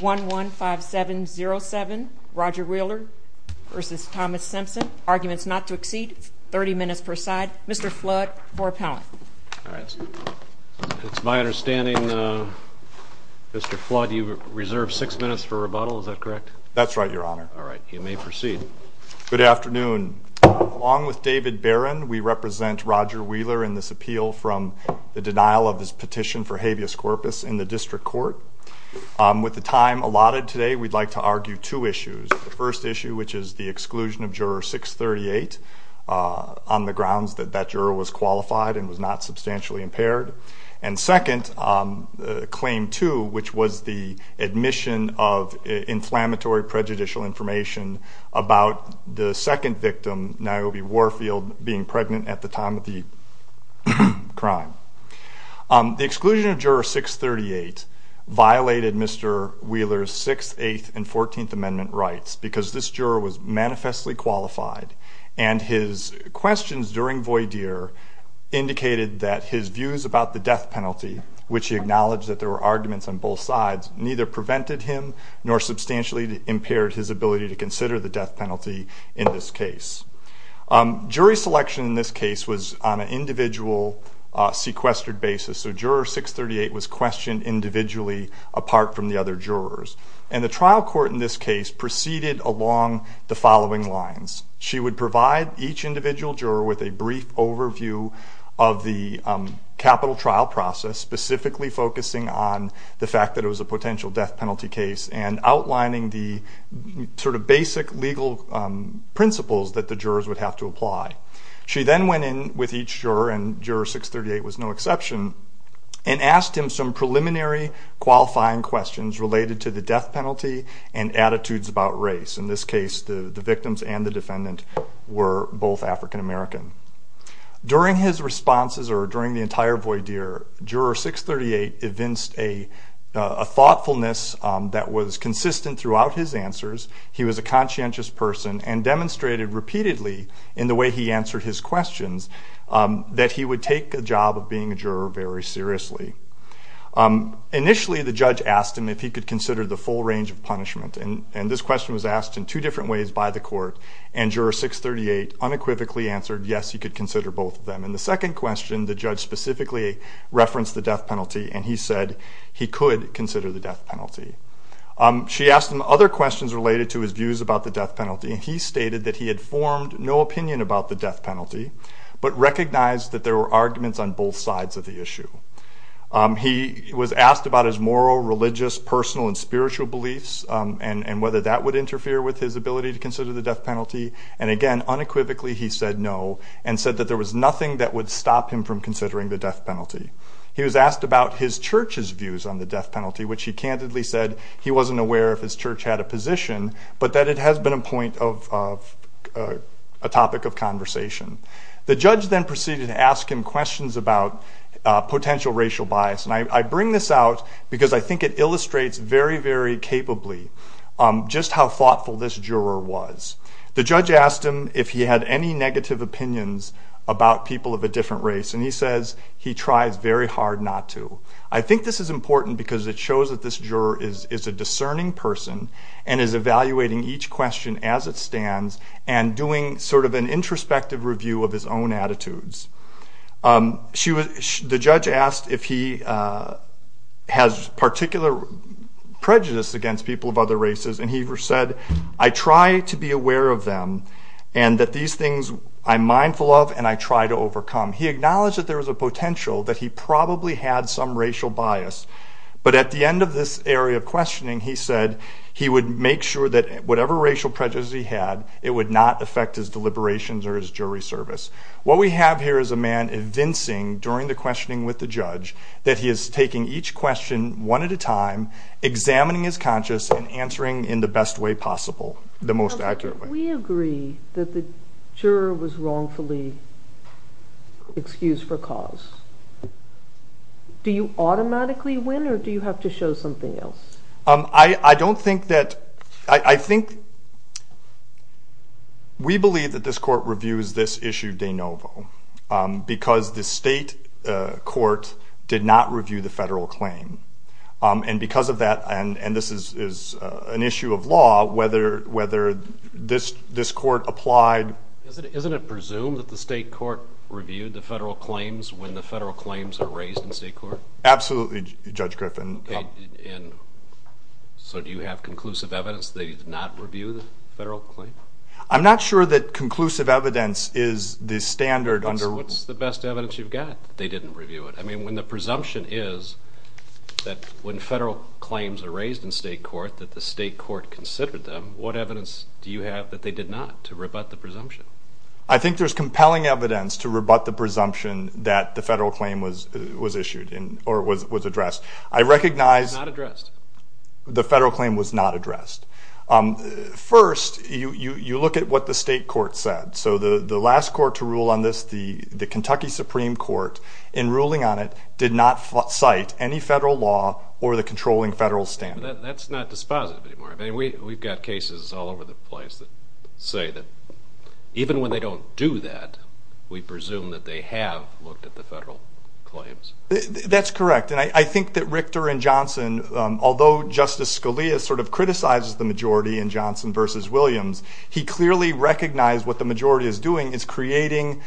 115707 Roger Wheeler v. Thomas Simpson Arguments not to accede. 30 minutes per side. Mr. Flood, for appellant. It's my understanding, Mr. Flood, you reserve 6 minutes for rebuttal, is that correct? That's right, Your Honor. Alright, you may proceed. Good afternoon. Along with David Barron, we represent Roger Wheeler in this appeal from the denial of his petition for habeas corpus in the district court. With the time allotted today, we'd like to argue two issues. The first issue, which is the exclusion of juror 638 on the grounds that that juror was qualified and was not substantially impaired. And second, claim two, which was the admission of inflammatory prejudicial information about the second victim, Niobe Warfield, being pregnant at the time of the crime. The exclusion of juror 638 violated Mr. Wheeler's 6th, 8th, and 14th Amendment rights because this juror was manifestly qualified. And his questions during voir dire indicated that his views about the death penalty, which he acknowledged that there were arguments on both sides, neither prevented him nor substantially impaired his ability to consider the death penalty in this case. Jury selection in this case was on an individual sequestered basis. So juror 638 was questioned individually apart from the other jurors. And the trial court in this case proceeded along the following lines. She would provide each individual juror with a brief overview of the capital trial process, specifically focusing on the fact that it was a potential death penalty case and outlining the sort of basic legal principles that the jurors would have to apply. She then went in with each juror, and juror 638 was no exception, and asked him some preliminary qualifying questions related to the death penalty and attitudes about race. In this case, the victims and the defendant were both African American. During his responses or during the entire voir dire, juror 638 evinced a thoughtfulness that was consistent throughout his answers. He was a conscientious person and demonstrated repeatedly in the way he answered his questions that he would take the job of being a juror very seriously. Initially, the judge asked him if he could consider the full range of punishment, and this question was asked in two different ways by the court, and juror 638 unequivocally answered yes, he could consider both of them. In the second question, the judge specifically referenced the death penalty, and he said he could consider the death penalty. She asked him other questions related to his views about the death penalty, and he stated that he had formed no opinion about the death penalty, but recognized that there were arguments on both sides of the issue. He was asked about his moral, religious, personal, and spiritual beliefs and whether that would interfere with his ability to consider the death penalty, and again, unequivocally he said no, and said that there was nothing that would stop him from considering the death penalty. He was asked about his church's views on the death penalty, which he candidly said he wasn't aware if his church had a position, but that it has been a point of a topic of conversation. The judge then proceeded to ask him questions about potential racial bias, and I bring this out because I think it illustrates very, very capably just how thoughtful this juror was. The judge asked him if he had any negative opinions about people of a different race, and he says he tries very hard not to. I think this is important because it shows that this juror is a discerning person and is evaluating each question as it stands and doing sort of an introspective review of his own attitudes. The judge asked if he has particular prejudice against people of other races, and he said, I try to be aware of them and that these things I'm mindful of and I try to overcome. He acknowledged that there was a potential that he probably had some racial bias, but at the end of this area of questioning, he said he would make sure that whatever racial prejudice he had, it would not affect his deliberations or his jury service. What we have here is a man convincing during the questioning with the judge that he is taking each question one at a time, examining his conscience, and answering in the best way possible, the most accurate way. We agree that the juror was wrongfully excused for cause. Do you automatically win or do you have to show something else? I don't think that – I think we believe that this court reviews this issue de novo because the state court did not review the federal claim, and because of that, and this is an issue of law, whether this court applied. Isn't it presumed that the state court reviewed the federal claims when the federal claims were raised in state court? Absolutely, Judge Griffin. And so do you have conclusive evidence that you did not review the federal claim? I'm not sure that conclusive evidence is the standard under – What's the best evidence you've got that they didn't review it? I mean, when the presumption is that when federal claims are raised in state court that the state court considered them, what evidence do you have that they did not to rebut the presumption? I think there's compelling evidence to rebut the presumption that the federal claim was issued or was addressed. I recognize – It was not addressed. The federal claim was not addressed. First, you look at what the state court said. So the last court to rule on this, the Kentucky Supreme Court, in ruling on it did not cite any federal law or the controlling federal standard. That's not dispositive anymore. I mean, we've got cases all over the place that say that even when they don't do that, we presume that they have looked at the federal claims. That's correct. And I think that Richter and Johnson, although Justice Scalia sort of criticizes the majority in Johnson v. Williams, he clearly recognized what the majority is doing is creating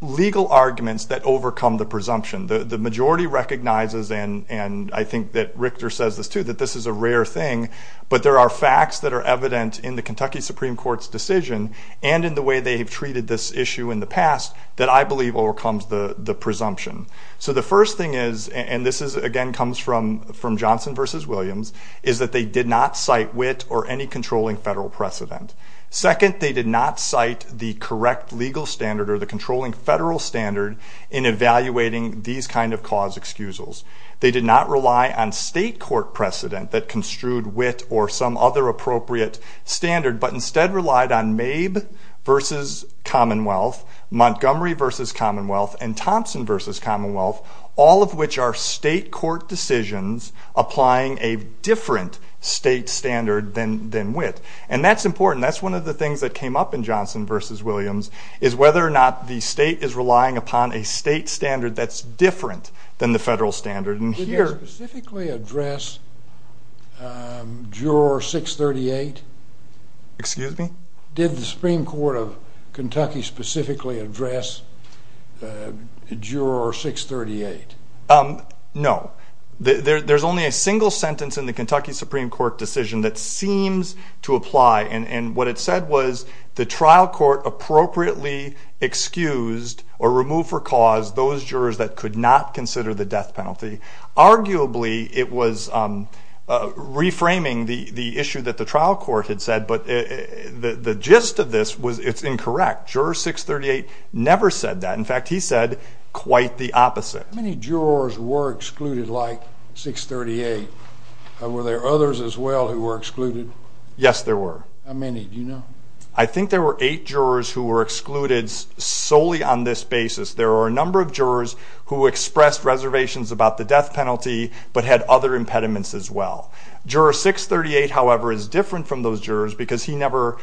legal arguments that overcome the presumption. The majority recognizes, and I think that Richter says this too, that this is a rare thing, but there are facts that are evident in the Kentucky Supreme Court's decision and in the way they have treated this issue in the past that I believe overcomes the presumption. So the first thing is, and this again comes from Johnson v. Williams, is that they did not cite wit or any controlling federal precedent. Second, they did not cite the correct legal standard or the controlling federal standard in evaluating these kind of clause excusals. They did not rely on state court precedent that construed wit or some other appropriate standard, but instead relied on Mabe v. Commonwealth, Montgomery v. Commonwealth, and Thompson v. Commonwealth, all of which are state court decisions applying a different state standard than wit. And that's important. That's one of the things that came up in Johnson v. Williams, is whether or not the state is relying upon a state standard that's different than the federal standard. Did you specifically address Juror 638? Excuse me? Did the Supreme Court of Kentucky specifically address Juror 638? No. There's only a single sentence in the Kentucky Supreme Court decision that seems to apply, and what it said was the trial court appropriately excused or removed for cause those jurors that could not consider the death penalty. Arguably, it was reframing the issue that the trial court had said, but the gist of this was it's incorrect. Juror 638 never said that. In fact, he said quite the opposite. How many jurors were excluded like 638? Were there others as well who were excluded? Yes, there were. How many? Do you know? I think there were eight jurors who were excluded solely on this basis. There were a number of jurors who expressed reservations about the death penalty but had other impediments as well. Juror 638, however, is different from those jurors because he never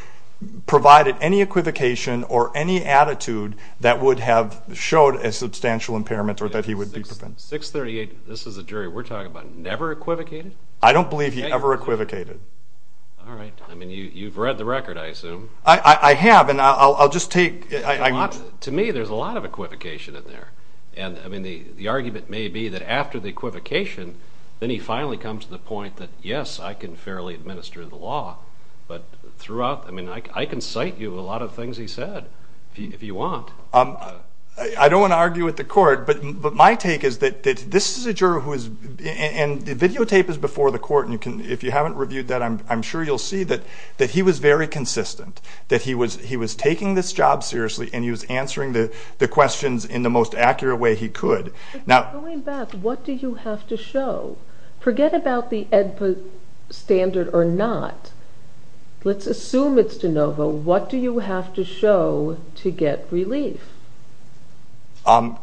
provided any equivocation or any attitude that would have showed a substantial impairment or that he would be prevented. 638, this is a jury we're talking about, never equivocated? I don't believe he ever equivocated. All right. I mean, you've read the record, I assume. I have, and I'll just take— To me, there's a lot of equivocation in there, and the argument may be that after the equivocation, then he finally comes to the point that, yes, I can fairly administer the law, but throughout, I mean, I can cite you a lot of things he said. If you want. I don't want to argue with the court, but my take is that this is a juror who is— and the videotape is before the court, and if you haven't reviewed that, I'm sure you'll see that he was very consistent, that he was taking this job seriously and he was answering the questions in the most accurate way he could. Going back, what did you have to show? Forget about the EDPA standard or not. Let's assume it's de novo. What do you have to show to get relief?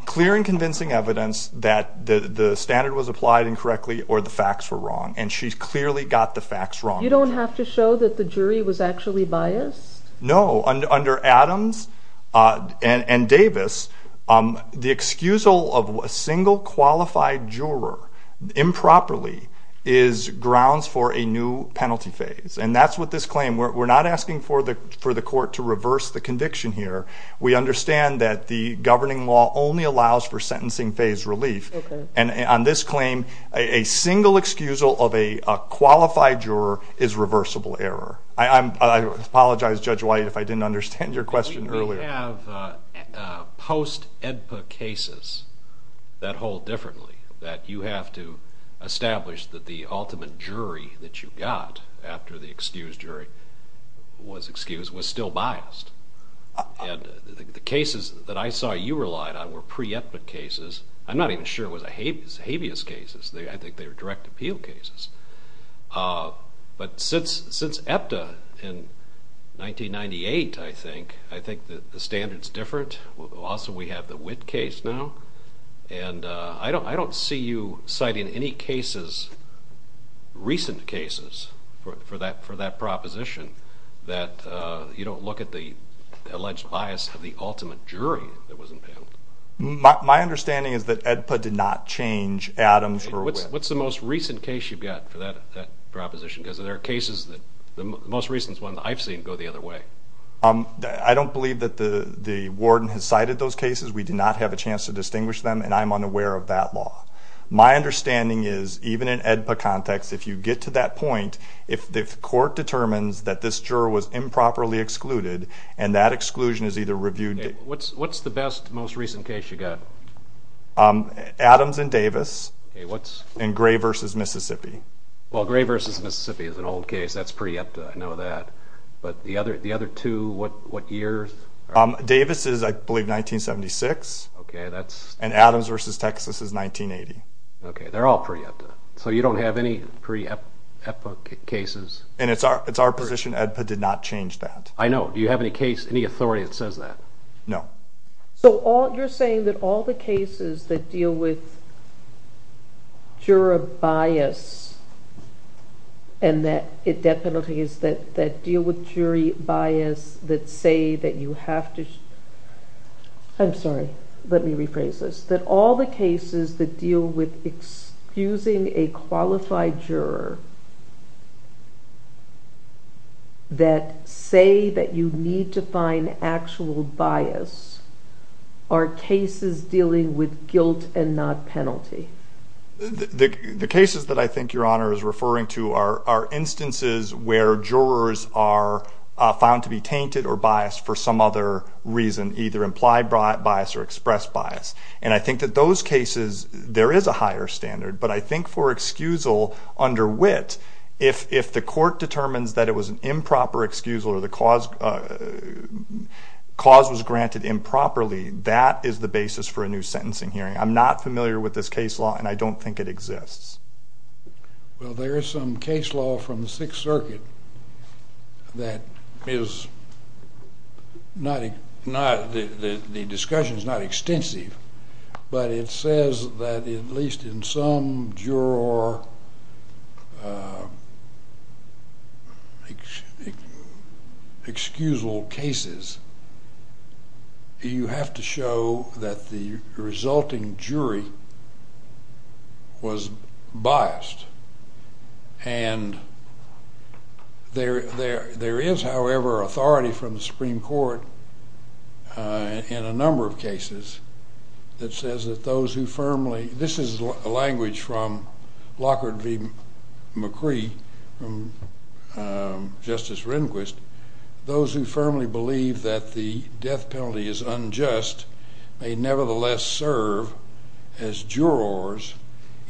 Clear and convincing evidence that the standard was applied incorrectly or the facts were wrong, and she's clearly got the facts wrong. You don't have to show that the jury was actually biased? No. Under Adams and Davis, the excusal of a single qualified juror improperly is grounds for a new penalty phase, and that's what this claim— we're not asking for the court to reverse the conviction here. We understand that the governing law only allows for sentencing phase relief, and on this claim, a single excusal of a qualified juror is reversible error. I apologize, Judge White, if I didn't understand your question earlier. We have post-EDPA cases that hold differently, that you have to establish that the ultimate jury that you got after the excused jury was excused was still biased. The cases that I saw you relied on were pre-EPTA cases. I'm not even sure it was habeas cases. I think they were direct appeal cases. But since EPTA in 1998, I think, I think the standard's different. Also, we have the Witt case now, and I don't see you citing any cases, recent cases, for that proposition that you don't look at the alleged bias of the ultimate jury that was impaled. My understanding is that EDPA did not change Adams for Witt. What's the most recent case you've got for that proposition? Because there are cases that—the most recent one I've seen go the other way. I don't believe that the warden has cited those cases. We do not have a chance to distinguish them, and I'm unaware of that law. My understanding is, even in EDPA context, if you get to that point, if the court determines that this juror was improperly excluded and that exclusion is either reviewed— What's the best, most recent case you got? Adams and Davis. And Gray v. Mississippi. Well, Gray v. Mississippi is an old case. That's pre-EPTA. I know that. But the other two, what years? Davis is, I believe, 1976. And Adams v. Texas is 1980. Okay, they're all pre-EPTA. So you don't have any pre-EPTA cases. And it's our position EDPA did not change that. I know. Do you have any authority that says that? No. So you're saying that all the cases that deal with juror bias and that penalty is that deal with jury bias that say that you have to— I'm sorry. Let me rephrase this. That all the cases that deal with excusing a qualified juror that say that you need to find actual bias are cases dealing with guilt and not penalty. The cases that I think Your Honor is referring to are instances where jurors are found to be tainted or biased for some other reason, either implied bias or expressed bias. And I think that those cases, there is a higher standard. But I think for excusal under wit, if the court determines that it was an improper excusal or the cause was granted improperly, that is the basis for a new sentencing hearing. I'm not familiar with this case law, and I don't think it exists. Well, there is some case law from the Sixth Circuit that is not— the discussion is not extensive, but it says that at least in some juror excusal cases, you have to show that the resulting jury was biased. And there is, however, authority from the Supreme Court in a number of cases that says that those who firmly— this is language from Lockhart v. McCree, Justice Rehnquist. Those who firmly believe that the death penalty is unjust may nevertheless serve as jurors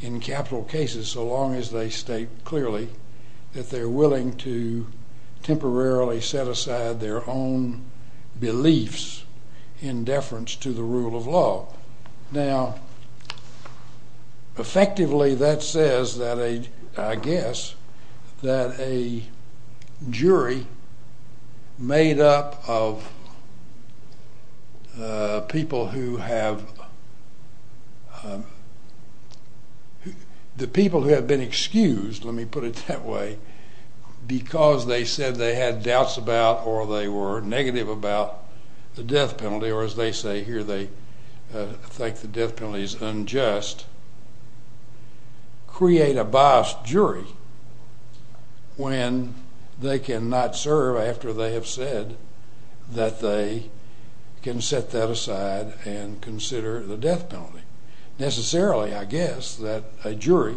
in capital cases so long as they state clearly that they're willing to temporarily set aside their own beliefs in deference to the rule of law. Now, effectively that says, I guess, that a jury made up of people who have— the people who have been excused, let me put it that way, because they said they had doubts about or they were negative about the death penalty, or as they say here, they think the death penalty is unjust, create a biased jury when they cannot serve after they have said that they can set that aside and consider the death penalty. Necessarily, I guess, that a jury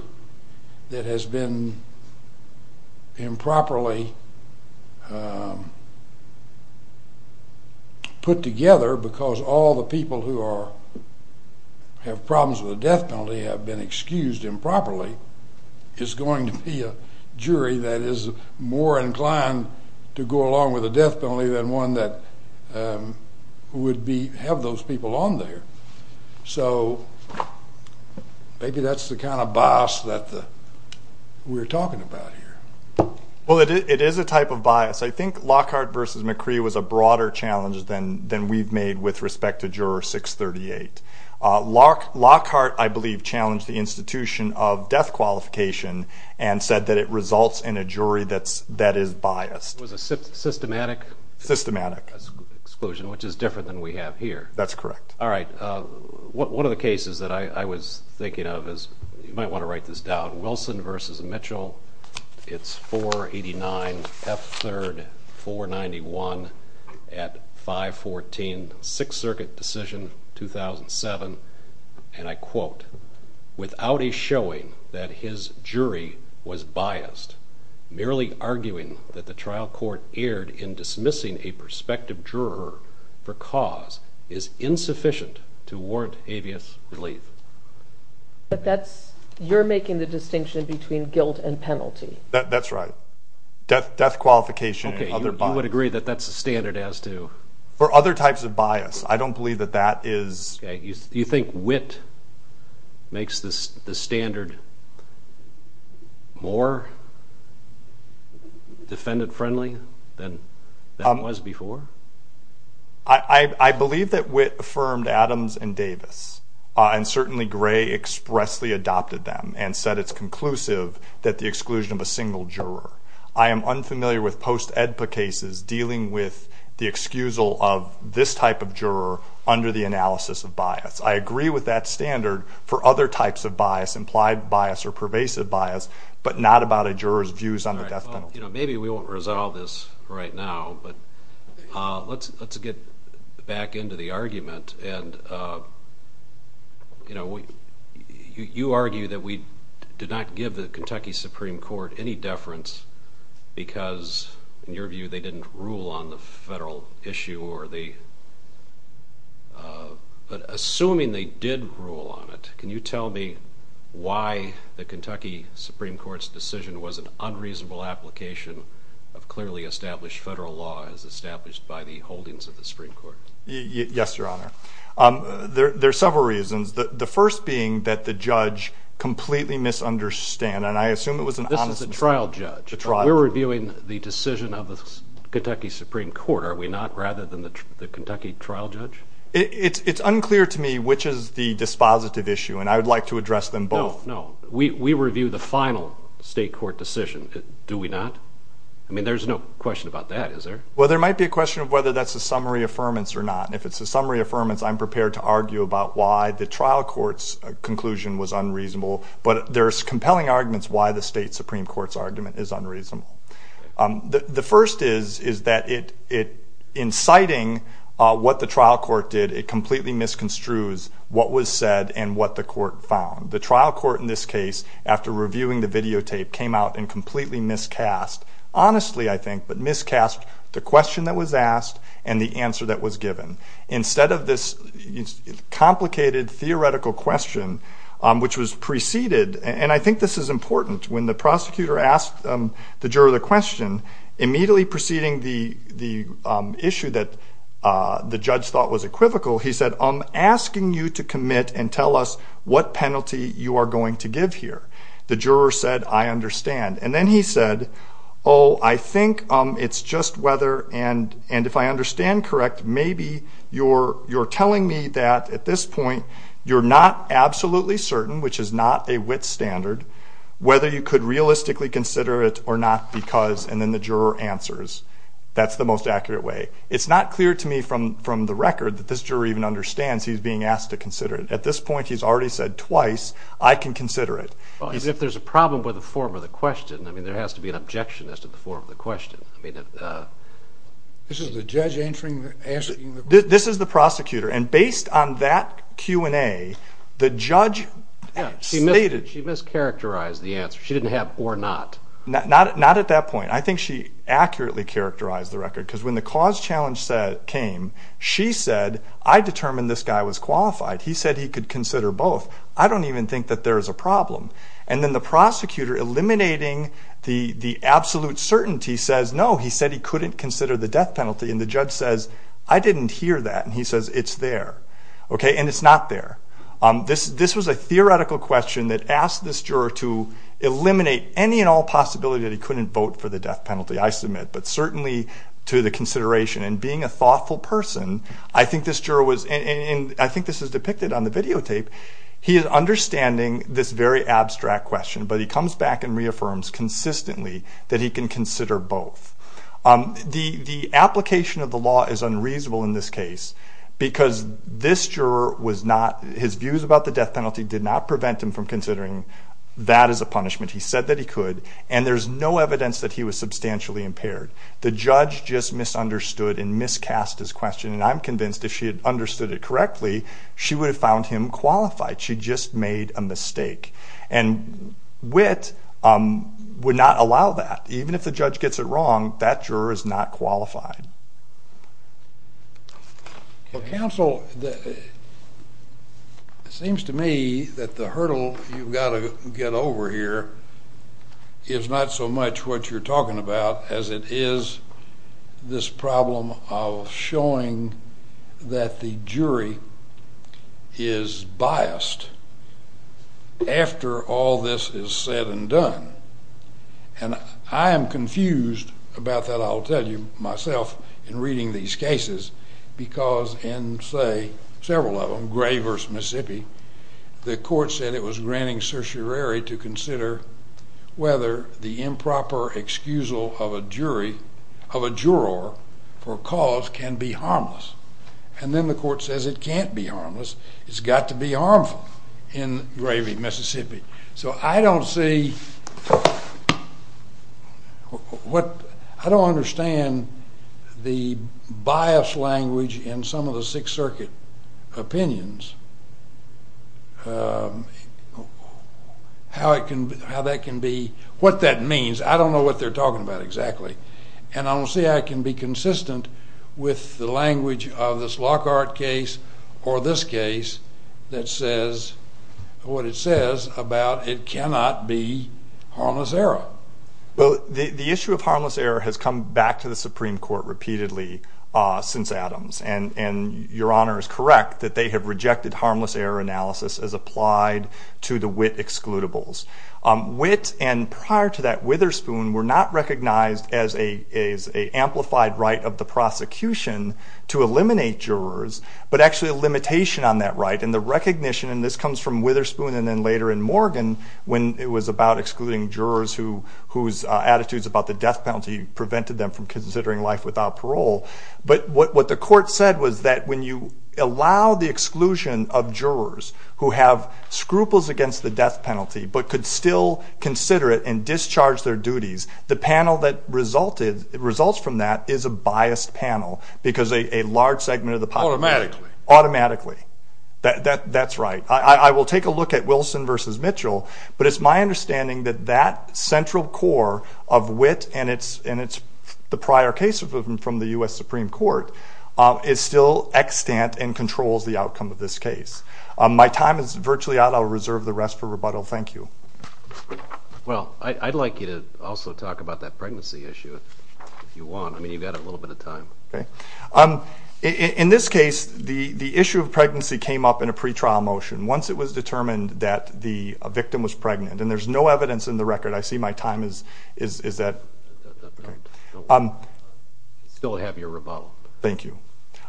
that has been improperly put together because all the people who are— have been excused improperly is going to be a jury that is more inclined to go along with the death penalty than one that would have those people on there. So maybe that's the kind of bias that we're talking about here. Well, it is a type of bias. I think Lockhart v. McCree was a broader challenge than we've made with respect to Juror 638. Lockhart, I believe, challenged the institution of death qualification and said that it results in a jury that is biased. It was a systematic exclusion, which is different than we have here. That's correct. All right. One of the cases that I was thinking of is— you might want to write this down— Wilson v. Mitchell. It's 489 F. 3rd 491 at 514 Sixth Circuit Decision, 2007. And I quote, Without a showing that his jury was biased, merely arguing that the trial court erred in dismissing a prospective juror for cause is insufficient to warrant habeas relief. But that's—you're making the distinction between guilt and penalty. That's right. Death qualification and other bias. Okay, you would agree that that's a standard as to— Or other types of bias. I don't believe that that is— Okay. Do you think Witt makes the standard more defendant-friendly than it was before? I believe that Witt affirmed Adams and Davis. And certainly Gray expressly adopted them and said it's conclusive that the exclusion of a single juror. I am unfamiliar with post-AEDPA cases dealing with the excusal of this type of juror under the analysis of bias. I agree with that standard for other types of bias, implied bias or pervasive bias, but not about a juror's views on the death penalty. Maybe we won't resolve this right now, but let's get back into the argument. And, you know, you argue that we did not give the Kentucky Supreme Court any deference because, in your view, they didn't rule on the federal issue or the— but assuming they did rule on it, can you tell me why the Kentucky Supreme Court's decision was an unreasonable application of clearly established federal law as established by the holdings of the Supreme Court? Yes, Your Honor. There are several reasons. The first being that the judge completely misunderstood, and I assume it was an honest— This was a trial judge. A trial judge. We're reviewing the decision of the Kentucky Supreme Court, are we not, rather than the Kentucky trial judge? It's unclear to me which is the dispositive issue, and I would like to address them both. No, no. We review the final state court decision. Do we not? I mean, there's no question about that, is there? Well, there might be a question of whether that's a summary affirmance or not, and if it's a summary affirmance, I'm prepared to argue about why the trial court's conclusion was unreasonable, but there's compelling arguments why the state Supreme Court's argument is unreasonable. The first is that in citing what the trial court did, it completely misconstrues what was said and what the court found. The trial court in this case, after reviewing the videotape, came out and completely miscast—honestly, I think, but miscast the question that was asked and the answer that was given. Instead of this complicated theoretical question, which was preceded— and I think this is important. When the prosecutor asked the juror the question, immediately preceding the issue that the judge thought was equivocal, he said, I'm asking you to commit and tell us what penalty you are going to give here. The juror said, I understand. And then he said, oh, I think it's just whether—and if I understand correct, maybe you're telling me that at this point you're not absolutely certain, which is not a WIT standard, whether you could realistically consider it or not, because—and then the juror answers. That's the most accurate way. It's not clear to me from the record that this juror even understands he's being asked to consider it. At this point, he's already said twice, I can consider it. As if there's a problem with the form of the question. I mean, there has to be an objection as to the form of the question. This is the judge answering— This is the prosecutor, and based on that Q&A, the judge stated— She mischaracterized the answer. She didn't have or not. Not at that point. I think she accurately characterized the record, because when the cause challenge came, she said, I determined this guy was qualified. He said he could consider both. I don't even think that there's a problem. And then the prosecutor, eliminating the absolute certainty, says, no, he said he couldn't consider the death penalty. And the judge says, I didn't hear that. And he says, it's there. And it's not there. This was a theoretical question that asked this juror to eliminate any and all possibility that he couldn't vote for the death penalty, I submit, but certainly to the consideration. And being a thoughtful person, I think this juror was— He is understanding this very abstract question, but he comes back and reaffirms consistently that he can consider both. The application of the law is unreasonable in this case, because this juror was not— His views about the death penalty did not prevent him from considering that as a punishment. He said that he could, and there's no evidence that he was substantially impaired. The judge just misunderstood and miscast his question, and I'm convinced if she had understood it correctly, she would have found him qualified. She just made a mistake. And Witt would not allow that. Even if the judge gets it wrong, that juror is not qualified. Well, counsel, it seems to me that the hurdle you've got to get over here is not so much what you're talking about as it is this problem of showing that the jury is biased after all this is said and done. And I am confused about that, I'll tell you myself, in reading these cases, because in, say, several of them, Gray v. Mississippi, the court said it was granting certiorari to consider whether the improper excusal of a juror for cause can be harmless. And then the court says it can't be harmless. It's got to be harmful in Gray v. Mississippi. So I don't see, I don't understand the biased language in some of the Sixth Circuit opinions, how that can be, what that means. I don't know what they're talking about exactly. And I don't see how it can be consistent with the language of this Lockhart case or this case that says what it says about it cannot be harmless error. Well, the issue of harmless error has come back to the Supreme Court repeatedly since Adams, and Your Honor is correct that they have rejected harmless error analysis as applied to the Witt excludables. Witt and prior to that Witherspoon were not recognized as an amplified right of the prosecution to eliminate jurors, but actually a limitation on that right, and the recognition, and this comes from Witherspoon and then later in Morgan when it was about excluding jurors whose attitudes about the death penalty prevented them from considering life without parole. But what the court said was that when you allow the exclusion of jurors who have scruples against the death penalty but could still consider it and discharge their duties, the panel that results from that is a biased panel because a large segment of the population. Automatically. Automatically. That's right. I will take a look at Wilson v. Mitchell, but it's my understanding that that central core of Witt and the prior case from the U.S. Supreme Court is still extant and controls the outcome of this case. My time is virtually out. I'll reserve the rest for rebuttal. Thank you. Well, I'd like you to also talk about that pregnancy issue if you want. I mean, you've got a little bit of time. In this case, the issue of pregnancy came up in a pretrial motion. Once it was determined that the victim was pregnant, and there's no evidence in the record. I see my time is that. Still have your rebuttal. Thank you.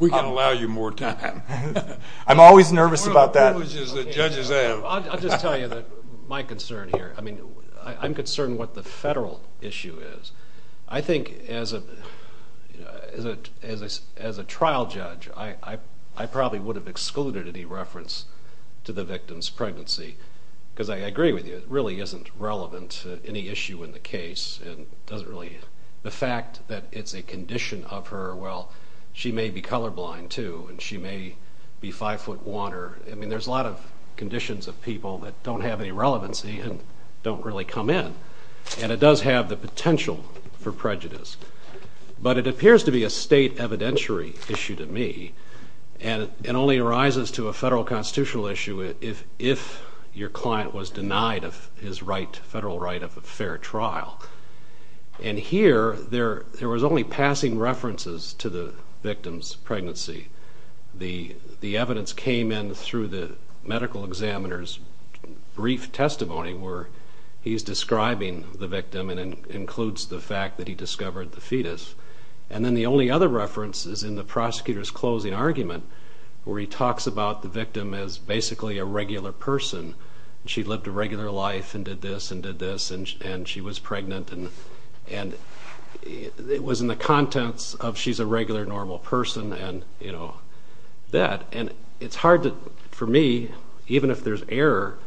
We can allow you more time. I'm always nervous about that. I'll just tell you my concern here. I mean, I'm concerned what the federal issue is. I think as a trial judge, I probably would have excluded any reference to the victim's pregnancy because I agree with you, it really isn't relevant to any issue in the case. The fact that it's a condition of her, well, she may be colorblind, too, and she may be five-foot water. I mean, there's a lot of conditions of people that don't have any relevancy and don't really come in. And it does have the potential for prejudice. But it appears to be a state evidentiary issue to me, and it only arises to a federal constitutional issue if your client was denied his federal right of a fair trial. And here, there was only passing references to the victim's pregnancy. The evidence came in through the medical examiner's brief testimony where he's describing the victim and includes the fact that he discovered the fetus. And then the only other reference is in the prosecutor's closing argument where he talks about the victim as basically a regular person. She lived a regular life and did this and did this, and she was pregnant. And it was in the context of she's a regular, normal person and, you know, that. And it's hard for me, even if there's error,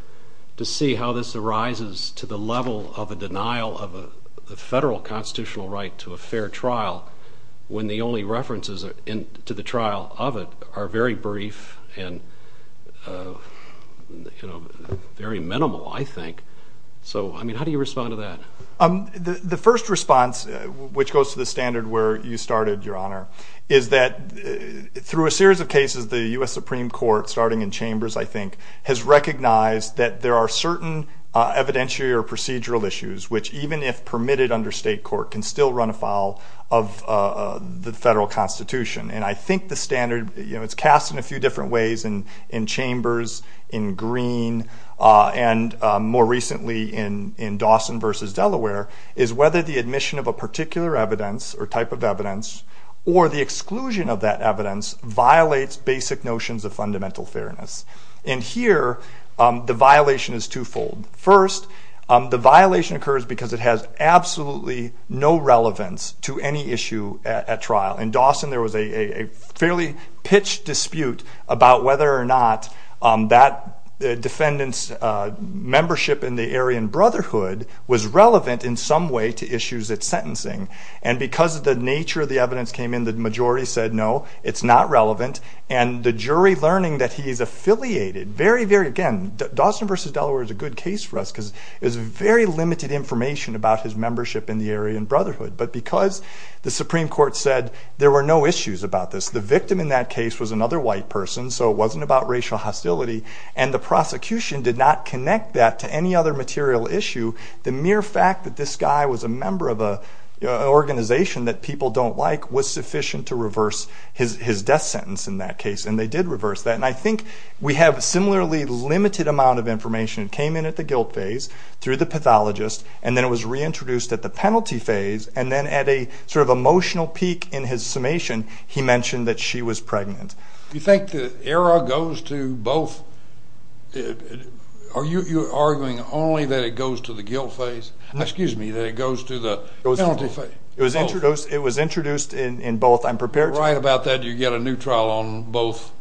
to see how this arises to the level of a denial of a federal constitutional right to a fair trial when the only references to the trial of it are very brief and, you know, very minimal, I think. So, I mean, how do you respond to that? The first response, which goes to the standard where you started, Your Honor, is that through a series of cases, the U.S. Supreme Court, starting in Chambers, I think, has recognized that there are certain evidentiary or procedural issues which, even if permitted under state court, can still run afoul of the federal constitution. And I think the standard, you know, it's cast in a few different ways in Chambers, in Green, and more recently in Dawson v. Delaware, is whether the admission of a particular evidence or type of evidence or the exclusion of that evidence violates basic notions of fundamental fairness. And here, the violation is twofold. First, the violation occurs because it has absolutely no relevance to any issue at trial. In Dawson, there was a fairly pitched dispute about whether or not that defendant's membership in the Aryan Brotherhood was relevant in some way to issues at sentencing. And because of the nature of the evidence that came in, the majority said no, it's not relevant. And the jury learning that he's affiliated, very, very, again, Dawson v. Delaware is a good case for us because there's very limited information about his membership in the Aryan Brotherhood. But because the Supreme Court said there were no issues about this, the victim in that case was another white person, so it wasn't about racial hostility, and the prosecution did not connect that to any other material issue, the mere fact that this guy was a member of an organization that people don't like was sufficient to reverse his death sentence in that case, and they did reverse that. And I think we have a similarly limited amount of information that came in at the guilt phase, through the pathologist, and then it was reintroduced at the penalty phase, and then at a sort of emotional peak in his summation, he mentioned that she was pregnant. You think the error goes to both? Are you arguing only that it goes to the guilt phase? Excuse me, that it goes to the penalty phase? It was introduced in both. I'm prepared to write about that. You get a new trial on both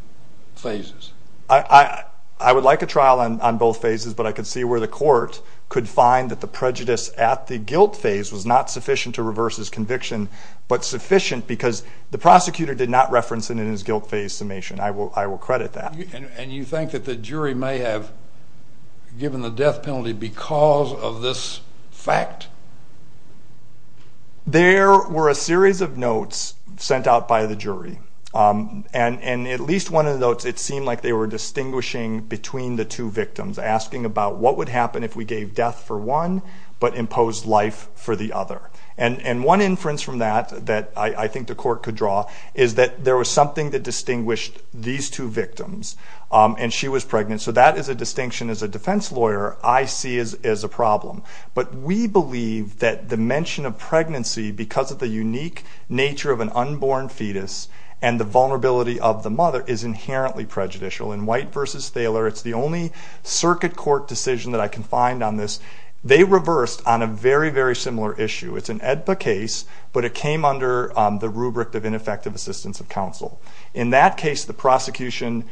phases. I would like a trial on both phases, but I could see where the court could find that the prejudice at the guilt phase was not sufficient to reverse his conviction, but sufficient because the prosecutor did not reference it in his guilt phase summation. I will credit that. And you think that the jury may have given the death penalty because of this fact? And at least one of the notes, it seemed like they were distinguishing between the two victims, asking about what would happen if we gave death for one but imposed life for the other. And one inference from that that I think the court could draw is that there was something that distinguished these two victims, and she was pregnant. So that is a distinction, as a defense lawyer, I see as a problem. But we believe that the mention of pregnancy because of the unique nature of an unborn fetus and the vulnerability of the mother is inherently prejudicial. In White v. Thaler, it's the only circuit court decision that I can find on this. They reversed on a very, very similar issue. It's an AEDPA case, but it came under the rubric of ineffective assistance of counsel. In that case, the prosecution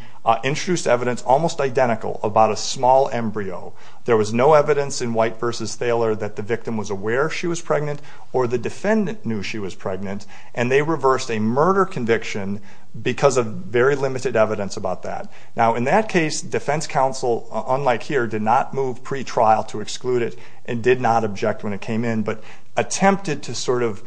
introduced evidence almost identical about a small embryo. There was no evidence in White v. Thaler that the victim was aware she was pregnant or the defendant knew she was pregnant, and they reversed a murder conviction because of very limited evidence about that. Now, in that case, defense counsel, unlike here, did not move pretrial to exclude it and did not object when it came in but attempted to sort of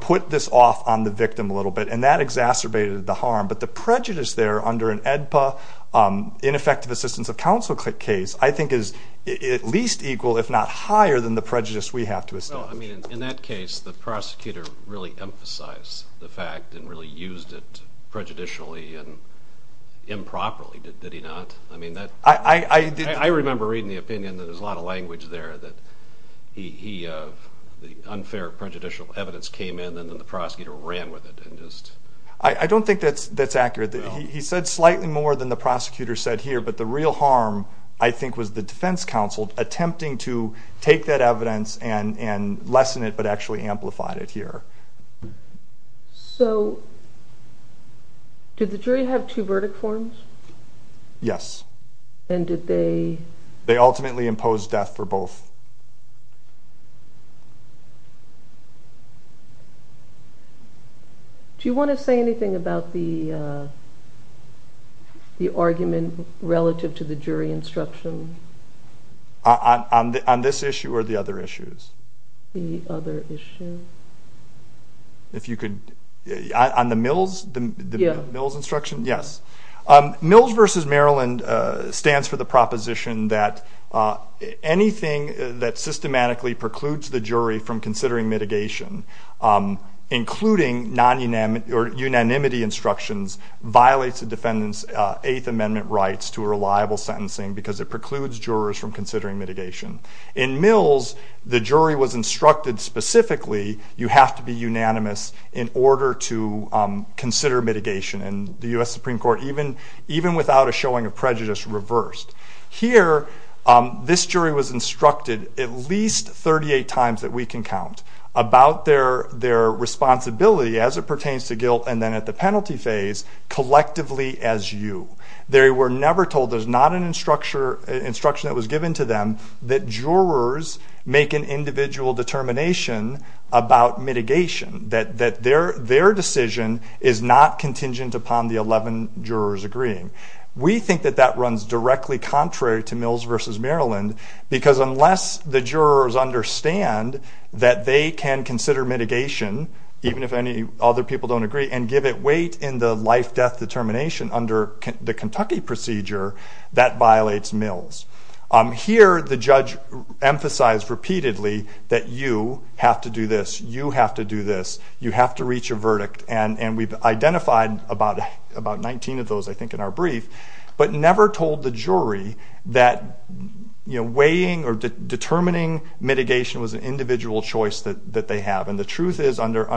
put this off on the victim a little bit, and that exacerbated the harm. But the prejudice there under an AEDPA, ineffective assistance of counsel case, I think is at least equal, if not higher, than the prejudice we have to establish. Well, I mean, in that case, the prosecutor really emphasized the fact and really used it prejudicially and improperly, did he not? I mean, I remember reading the opinion that there's a lot of language there that the unfair prejudicial evidence came in and then the prosecutor ran with it. I don't think that's accurate. He said slightly more than the prosecutor said here, but the real harm, I think, was the defense counsel attempting to take that evidence and lessen it but actually amplified it here. So did the jury have two verdict forms? Yes. And did they? They ultimately imposed death for both. Okay. Do you want to say anything about the argument relative to the jury instruction? On this issue or the other issues? The other issues. Yes. Mills v. Maryland stands for the proposition that anything that systematically precludes the jury from considering mitigation, including unanimity instructions, violates the defendant's Eighth Amendment rights to reliable sentencing because it precludes jurors from considering mitigation. In Mills, the jury was instructed specifically, you have to be unanimous in order to consider mitigation, and the U.S. Supreme Court, even without a showing of prejudice, reversed. Here, this jury was instructed at least 38 times that we can count about their responsibility as it pertains to guilt and then at the penalty phase collectively as you. They were never told there's not an instruction that was given to them that jurors make an individual determination about mitigation, that their decision is not contingent upon the 11 jurors agreeing. We think that that runs directly contrary to Mills v. Maryland because unless the jurors understand that they can consider mitigation, even if any other people don't agree, and give it weight in the life-death determination under the Kentucky procedure, that violates Mills. Here, the judge emphasized repeatedly that you have to do this, you have to do this, you have to reach a verdict, and we've identified about 19 of those, I think, in our brief, but never told the jury that weighing or determining mitigation was an individual choice that they have. And the truth is, under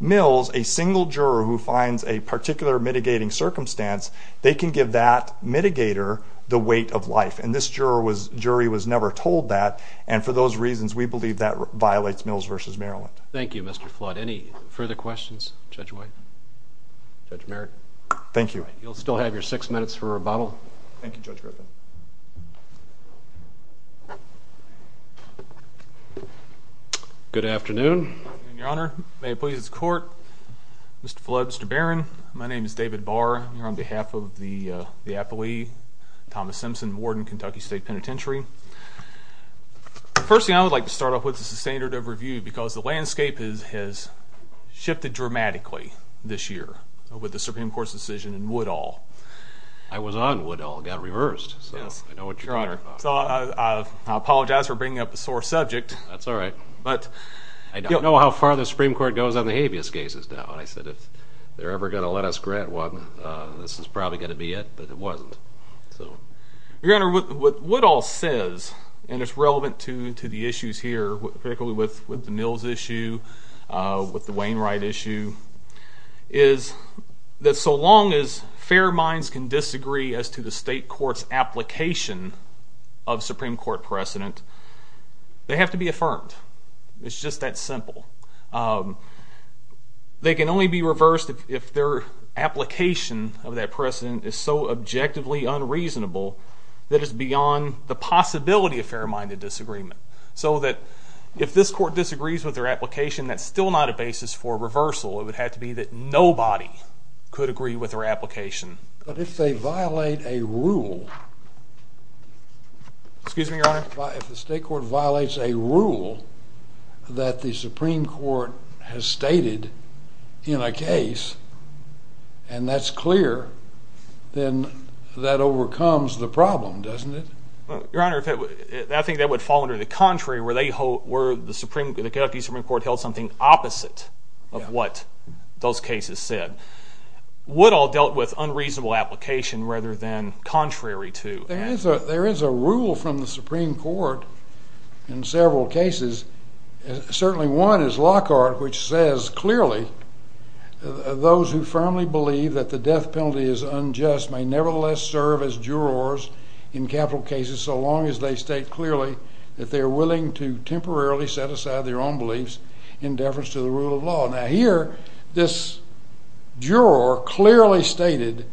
Mills, a single juror who finds a particular mitigating circumstance, they can give that mitigator the weight of life, and this jury was never told that, and for those reasons, we believe that violates Mills v. Maryland. Thank you, Mr. Flood. Any further questions, Judge White? Judge Merrick? Thank you. You'll still have your six minutes for rebuttal. Thank you, Judge Griffin. Good afternoon, Your Honor. May it please the Court. Mr. Flood, Mr. Barron, my name is David Barr. I'm here on behalf of the appellee, Thomas Simpson, Warden, Kentucky State Penitentiary. Firstly, I would like to start off with the standard of review because the landscape has shifted dramatically this year with the Supreme Court's decision in Woodall. I was on Woodall. It got reversed, so I know what you're talking about. Your Honor, I apologize for bringing up a sore subject. That's all right. But I don't know how far the Supreme Court goes on the habeas cases now. I said if they're ever going to let us grant one, this is probably going to be it, but it wasn't. Your Honor, what Woodall says, and it's relevant to the issues here, particularly with the Mills issue, with the Wainwright issue, is that so long as fair minds can disagree as to the state court's application of Supreme Court precedent, they have to be affirmed. It's just that simple. They can only be reversed if their application of that precedent is so objectively unreasonable that it's beyond the possibility of fair-minded disagreement. So that if this court disagrees with their application, that's still not a basis for reversal. It would have to be that nobody could agree with their application. But if they violate a rule, excuse me, Your Honor, if the state court violates a rule that the Supreme Court has stated in a case, and that's clear, then that overcomes the problem, doesn't it? Your Honor, I think that would fall under the contrary, where the Kentucky Supreme Court held something opposite of what those cases said. Woodall dealt with unreasonable application rather than contrary to that. There is a rule from the Supreme Court in several cases. Certainly one is Lockhart, which says clearly, those who firmly believe that the death penalty is unjust may nevertheless serve as jurors in capital cases so long as they state clearly that they are willing to temporarily set aside their own beliefs in deference to the rule of law. Now here, this juror clearly stated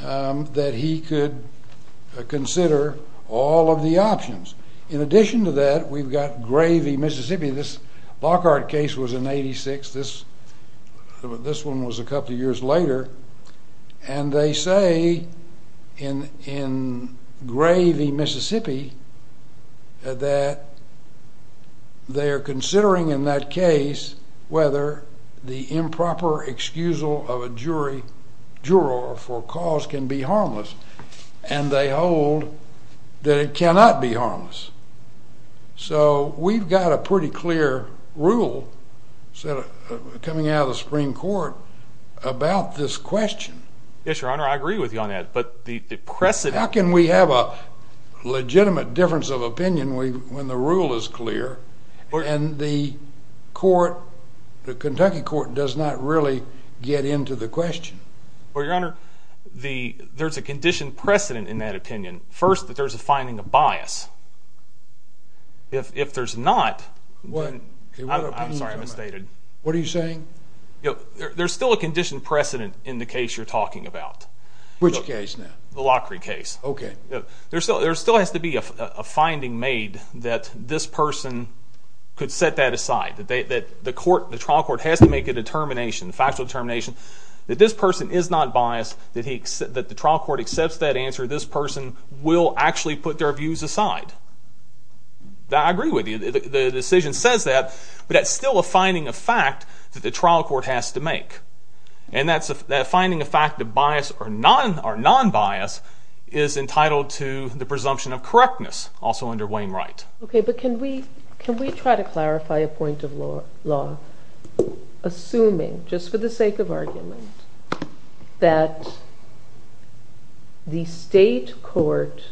that he could consider all of the options. In addition to that, we've got Gravey, Mississippi. This Lockhart case was in 86. This one was a couple of years later. And they say in Gravey, Mississippi, that they are considering in that case whether the improper excusal of a jury, juror for cause can be harmless. And they hold that it cannot be harmless. So we've got a pretty clear rule coming out of the Supreme Court about this question. Yes, Your Honor, I agree with you on that. But the precedent... How can we have a legitimate difference of opinion when the rule is clear and the court, the Kentucky court, does not really get into the question? Well, Your Honor, there's a condition precedent in that opinion. First, that there's a finding of bias. If there's not... I'm sorry, I misstated. What are you saying? There's still a condition precedent in the case you're talking about. Which case now? The Lockhart case. Okay. There still has to be a finding made that this person could set that aside, that the trial court has to make a determination, a factual determination that this person is not biased, that the trial court accepts that answer, this person will actually put their views aside. I agree with you. The decision says that, but that's still a finding of fact that the trial court has to make. And that finding of fact of bias or non-bias is entitled to the presumption of correctness, also under Wainwright. Okay, but can we try to clarify a point of law, assuming, just for the sake of argument, that the state court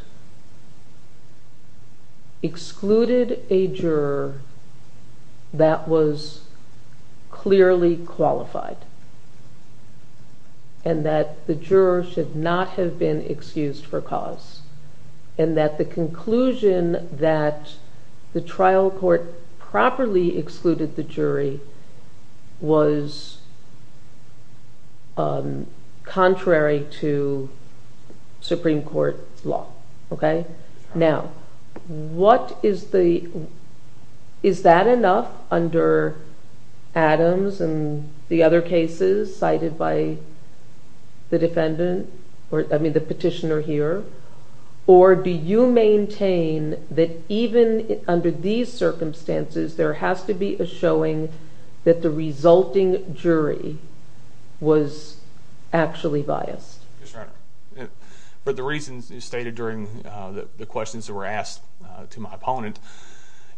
excluded a juror that was clearly qualified and that the juror should not have been excused for cause and that the conclusion that the trial court properly excluded the jury was contrary to Supreme Court law? Okay. Now, is that enough under Adams and the other cases cited by the petitioner here? Or do you maintain that even under these circumstances there has to be a showing that the resulting jury was actually biased? That's right. But the reason stated during the questions that were asked to my opponent,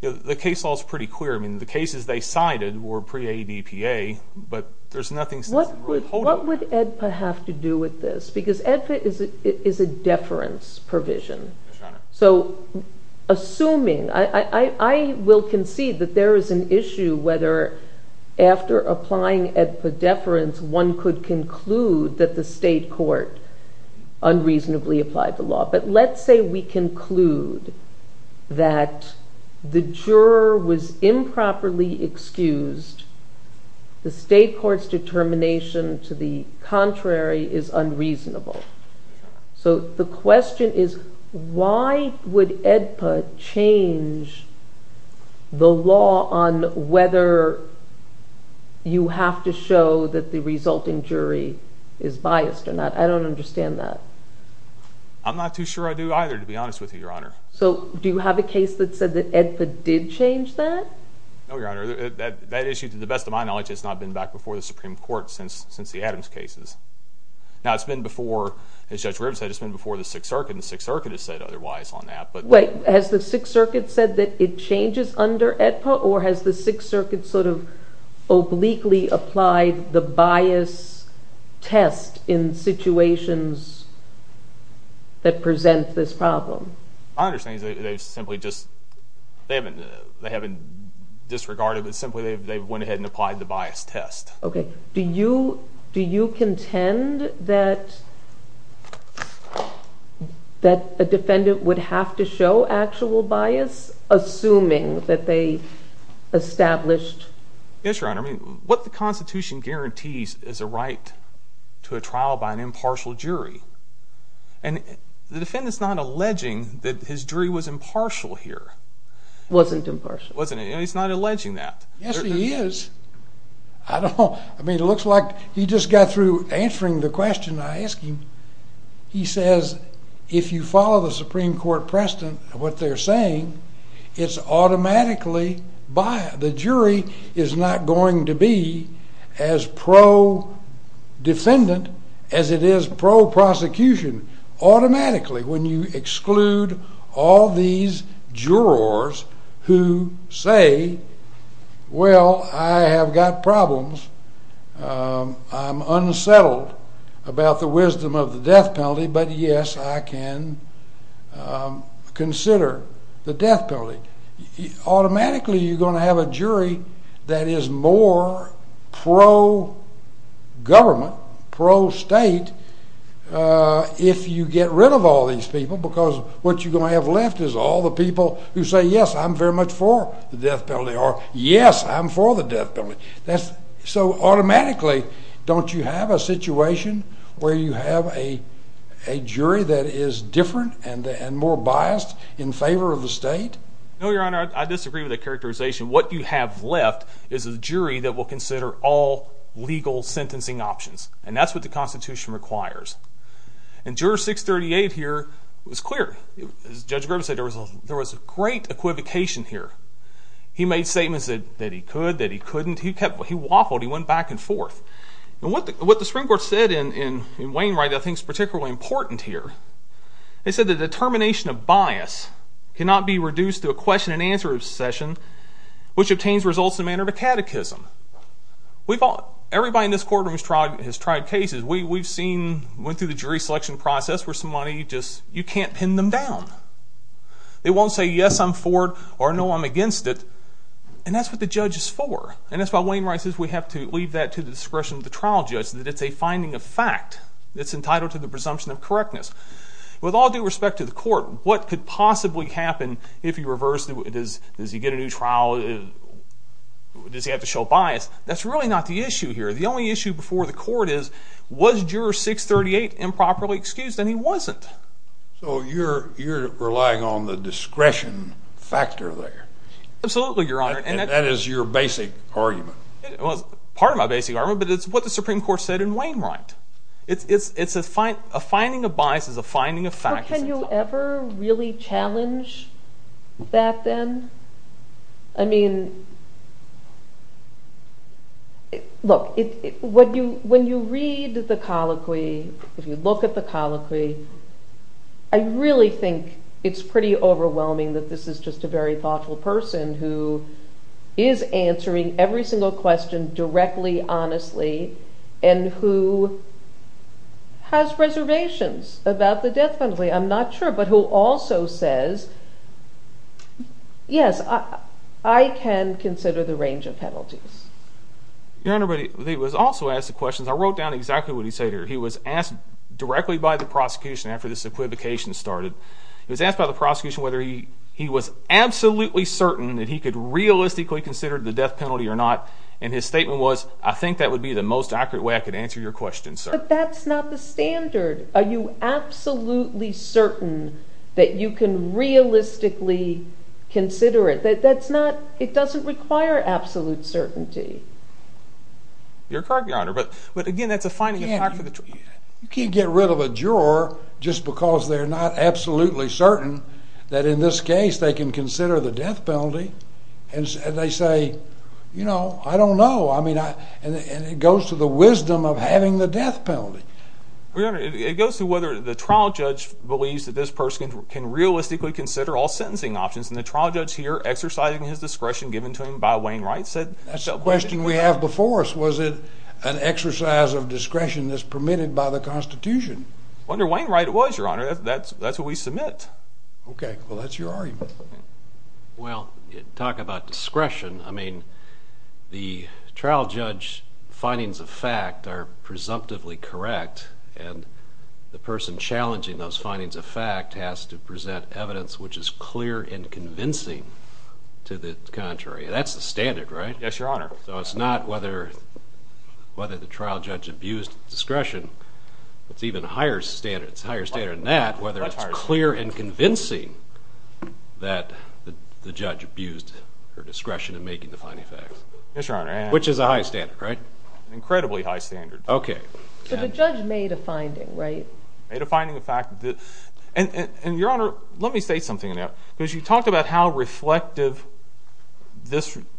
the case law is pretty clear. I mean, the cases they cited were pre-ADPA, but there's nothing... What would EDPA have to do with this? Because EDPA is a deference provision. That's right. So, assuming... I will concede that there is an issue whether after applying EDPA deference, one could conclude that the state court unreasonably applied the law. But let's say we conclude that the juror was improperly excused. The state court's determination to the contrary is unreasonable. So, the question is, why would EDPA change the law on whether you have to show that the resulting jury is biased or not? I don't understand that. I'm not too sure I do either, to be honest with you, Your Honor. So, do you have a case that said that EDPA did change that? No, Your Honor. That issue, to the best of my knowledge, has not been back before the Supreme Court since the Adams cases. Now, it's been before, as Judge Rivers said, it's been before the Sixth Circuit, and the Sixth Circuit has said otherwise on that. But... Has the Sixth Circuit said that it changes under EDPA, or has the Sixth Circuit sort of obliquely applied the bias test in situations that present this problem? My understanding is they simply just... They haven't disregarded it. Simply, they went ahead and applied the bias test. Okay. Do you contend that... that a defendant would have to show actual bias, assuming that they established... Yes, Your Honor. I mean, what the Constitution guarantees is a right to a trial by an impartial jury. And the defendant's not alleging that his jury was impartial here. Wasn't impartial. Wasn't, and he's not alleging that. Yes, he is. I don't know. I mean, it looks like he just got through answering the question I asked him. He says, if you follow the Supreme Court precedent of what they're saying, it's automatically biased. The jury is not going to be as pro-defendant as it is pro-prosecution. Automatically, when you exclude all these jurors who say, well, I have got problems. I'm unsettled about the wisdom of the death penalty, but yes, I can consider the death penalty. Automatically, you're going to have a jury that is more pro-government, pro-state, if you get rid of all these people, because what you're going to have left is all the people who say, yes, I'm very much for the death penalty, or yes, I'm for the death penalty. So automatically, don't you have a situation where you have a jury that is different and more biased in favor of the state? No, Your Honor, I disagree with that characterization. What you have left is a jury that will consider all legal sentencing options, and that's what the Constitution requires. In Juror 638 here, it was clear. Judge Groves said there was a great equivocation here. He made statements that he could, that he couldn't. He waffled. He went back and forth. What the Supreme Court said in Wainwright I think is particularly important here. It said the determination of bias cannot be reduced to a question-and-answer session which obtains results in a manner of a catechism. Everybody in this courtroom has tried cases. We've seen, went through the jury selection process where somebody just, you can't pin them down. They won't say, yes, I'm for it, or no, I'm against it. And that's what the judge is for. And that's why Wainwright says we have to leave that to the discretion of the trial judge, that it's a finding of fact that's entitled to the presumption of correctness. With all due respect to the court, what could possibly happen if you reverse, does he get a new trial, does he have to show bias? That's really not the issue here. The only issue before the court is, was juror 638 improperly excused? And he wasn't. So you're relying on the discretion factor there. Absolutely, Your Honor. And that is your basic argument. Well, part of my basic argument, but it's what the Supreme Court said in Wainwright. It's a finding of bias is a finding of fact. Can you ever really challenge that, then? I mean... Look, when you read the colloquy, if you look at the colloquy, I really think it's pretty overwhelming that this is just a very thoughtful person who is answering every single question directly, honestly, and who has reservations about the death penalty. I'm not sure, but who also says, Yes, I can consider the range of penalties. Your Honor, but he was also asked a question. I wrote down exactly what he said here. He was asked directly by the prosecution after this equivocation started. He was asked by the prosecution whether he was absolutely certain that he could realistically consider the death penalty or not, and his statement was, I think that would be the most accurate way I could answer your question, sir. But that's not the standard. Are you absolutely certain that you can realistically consider it? That's not... It doesn't require absolute certainty. Your card, Your Honor. But again, that's a finding of fact. You can't get rid of a juror just because they're not absolutely certain that in this case they can consider the death penalty. And they say, you know, I don't know. And it goes to the wisdom of having the death penalty. Your Honor, it goes to whether the trial judge believes that this person can realistically consider all sentencing options, and the trial judge here, exercising his discretion given to him by Wainwright, said... That's a question we have before us. Was it an exercise of discretion that's permitted by the Constitution? Whether Wainwright was, Your Honor, that's what we submit. Okay. Well, that's your argument. Well, talk about discretion. I mean, the trial judge's findings of fact are presumptively correct, and the person challenging those findings of fact has to present evidence which is clear and convincing to the contrary. That's the standard, right? Yes, Your Honor. So it's not whether the trial judge abused discretion. It's even higher standard. It's a higher standard than that, whether it's clear and convincing that the judge abused her discretion in making the finding of fact. Yes, Your Honor. Which is a high standard, right? Incredibly high standard. Okay. So the judge made a finding, right? Made a finding of fact. And, Your Honor, let me say something to that. Because you talk about how reflective,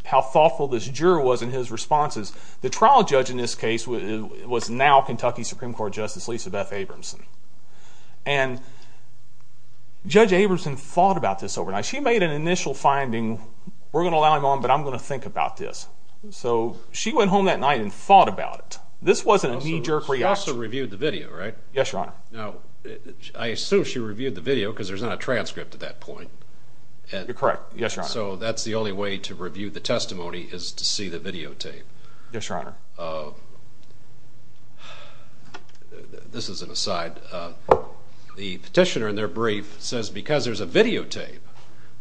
how thoughtful this juror was in his responses. The trial judge in this case was now Kentucky Supreme Court Justice Lisa Beth Abramson. And Judge Abramson thought about this overnight. She made an initial finding, we're going to allow him on, but I'm going to think about this. So she went home that night and thought about it. This wasn't a knee-jerk reaction. She also reviewed the video, right? Yes, Your Honor. Now, I assume she reviewed the video because there's not a transcript at that point. You're correct. Yes, Your Honor. So that's the only way to review the testimony is to see the videotape. Yes, Your Honor. This is an aside. The petitioner in their brief says because there's a videotape,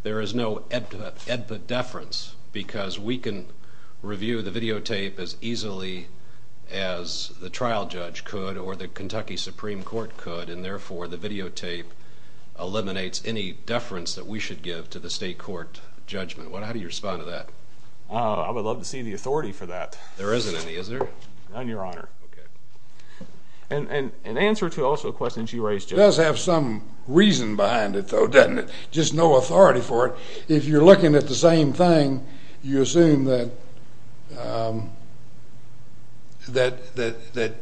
there is no EDVA deference because we can review the videotape as easily as the trial judge could or the Kentucky Supreme Court could, and therefore the videotape eliminates any deference that we should give to the state court judgment. How do you respond to that? I would love to see the authority for that. There isn't any. There isn't any, is there? None, Your Honor. Okay. And answer to also the question she raised. It does have some reason behind it, though, doesn't it? Just no authority for it. If you're looking at the same thing, you assume that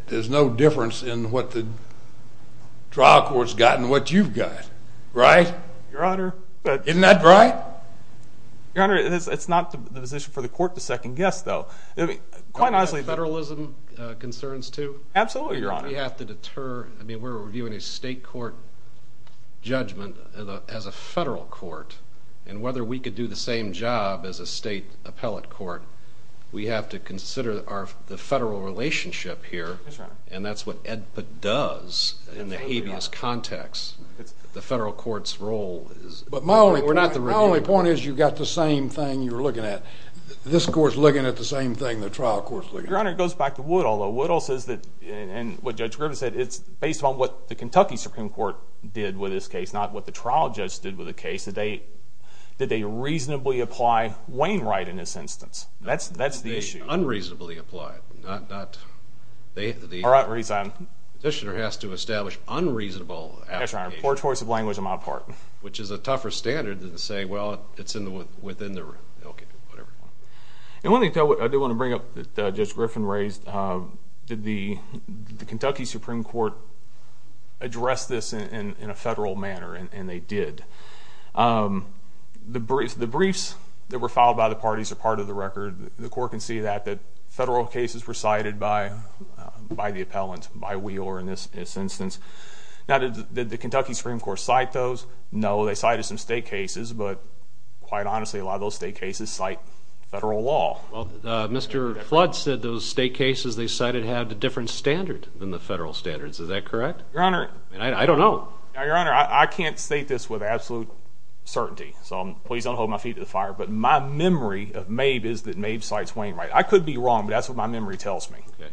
there's no difference in what the trial court's got and what you've got, right? Your Honor. Isn't that right? Your Honor, it's not the position for the court to second-guess, though. Quite honestly... Federalism concerns, too? Absolutely, Your Honor. We have to deter... I mean, we're reviewing a state court judgment as a federal court, and whether we could do the same job as a state appellate court, we have to consider the federal relationship here, and that's what EDVA does in the habeas context. The federal court's role is... But my only point is you've got the same thing you're looking at. This court's looking at the same thing the trial court's looking at. Your Honor, it goes back to Woodall, though. Woodall says that, and what Judge Griffin said, it's based on what the Kentucky Supreme Court did with this case, not what the trial judge did with the case. Did they reasonably apply Wainwright in this instance? That's the issue. They unreasonably applied. All right, read that. The positioner has to establish unreasonable... That's right. Poor choice of language on my part. Which is a tougher standard to say, well, it's within the room. Okay, whatever. One thing I do want to bring up that Judge Griffin raised, did the Kentucky Supreme Court address this in a federal manner, and they did. The briefs that were filed by the parties are part of the record. The court can see that, that federal cases were cited by the appellant, by Wheeler in this instance. Now, did the Kentucky Supreme Court cite those? No, they cited some state cases, but quite honestly a lot of those state cases cite federal law. Well, Mr. Flood said those state cases they cited have a different standard than the federal standards. Is that correct? Your Honor. I don't know. Your Honor, I can't state this with absolute certainty, so please don't hold my feet to the fire, but my memory of Maeve is that Maeve cites Wainwright. I could be wrong, but that's what my memory tells me. Okay.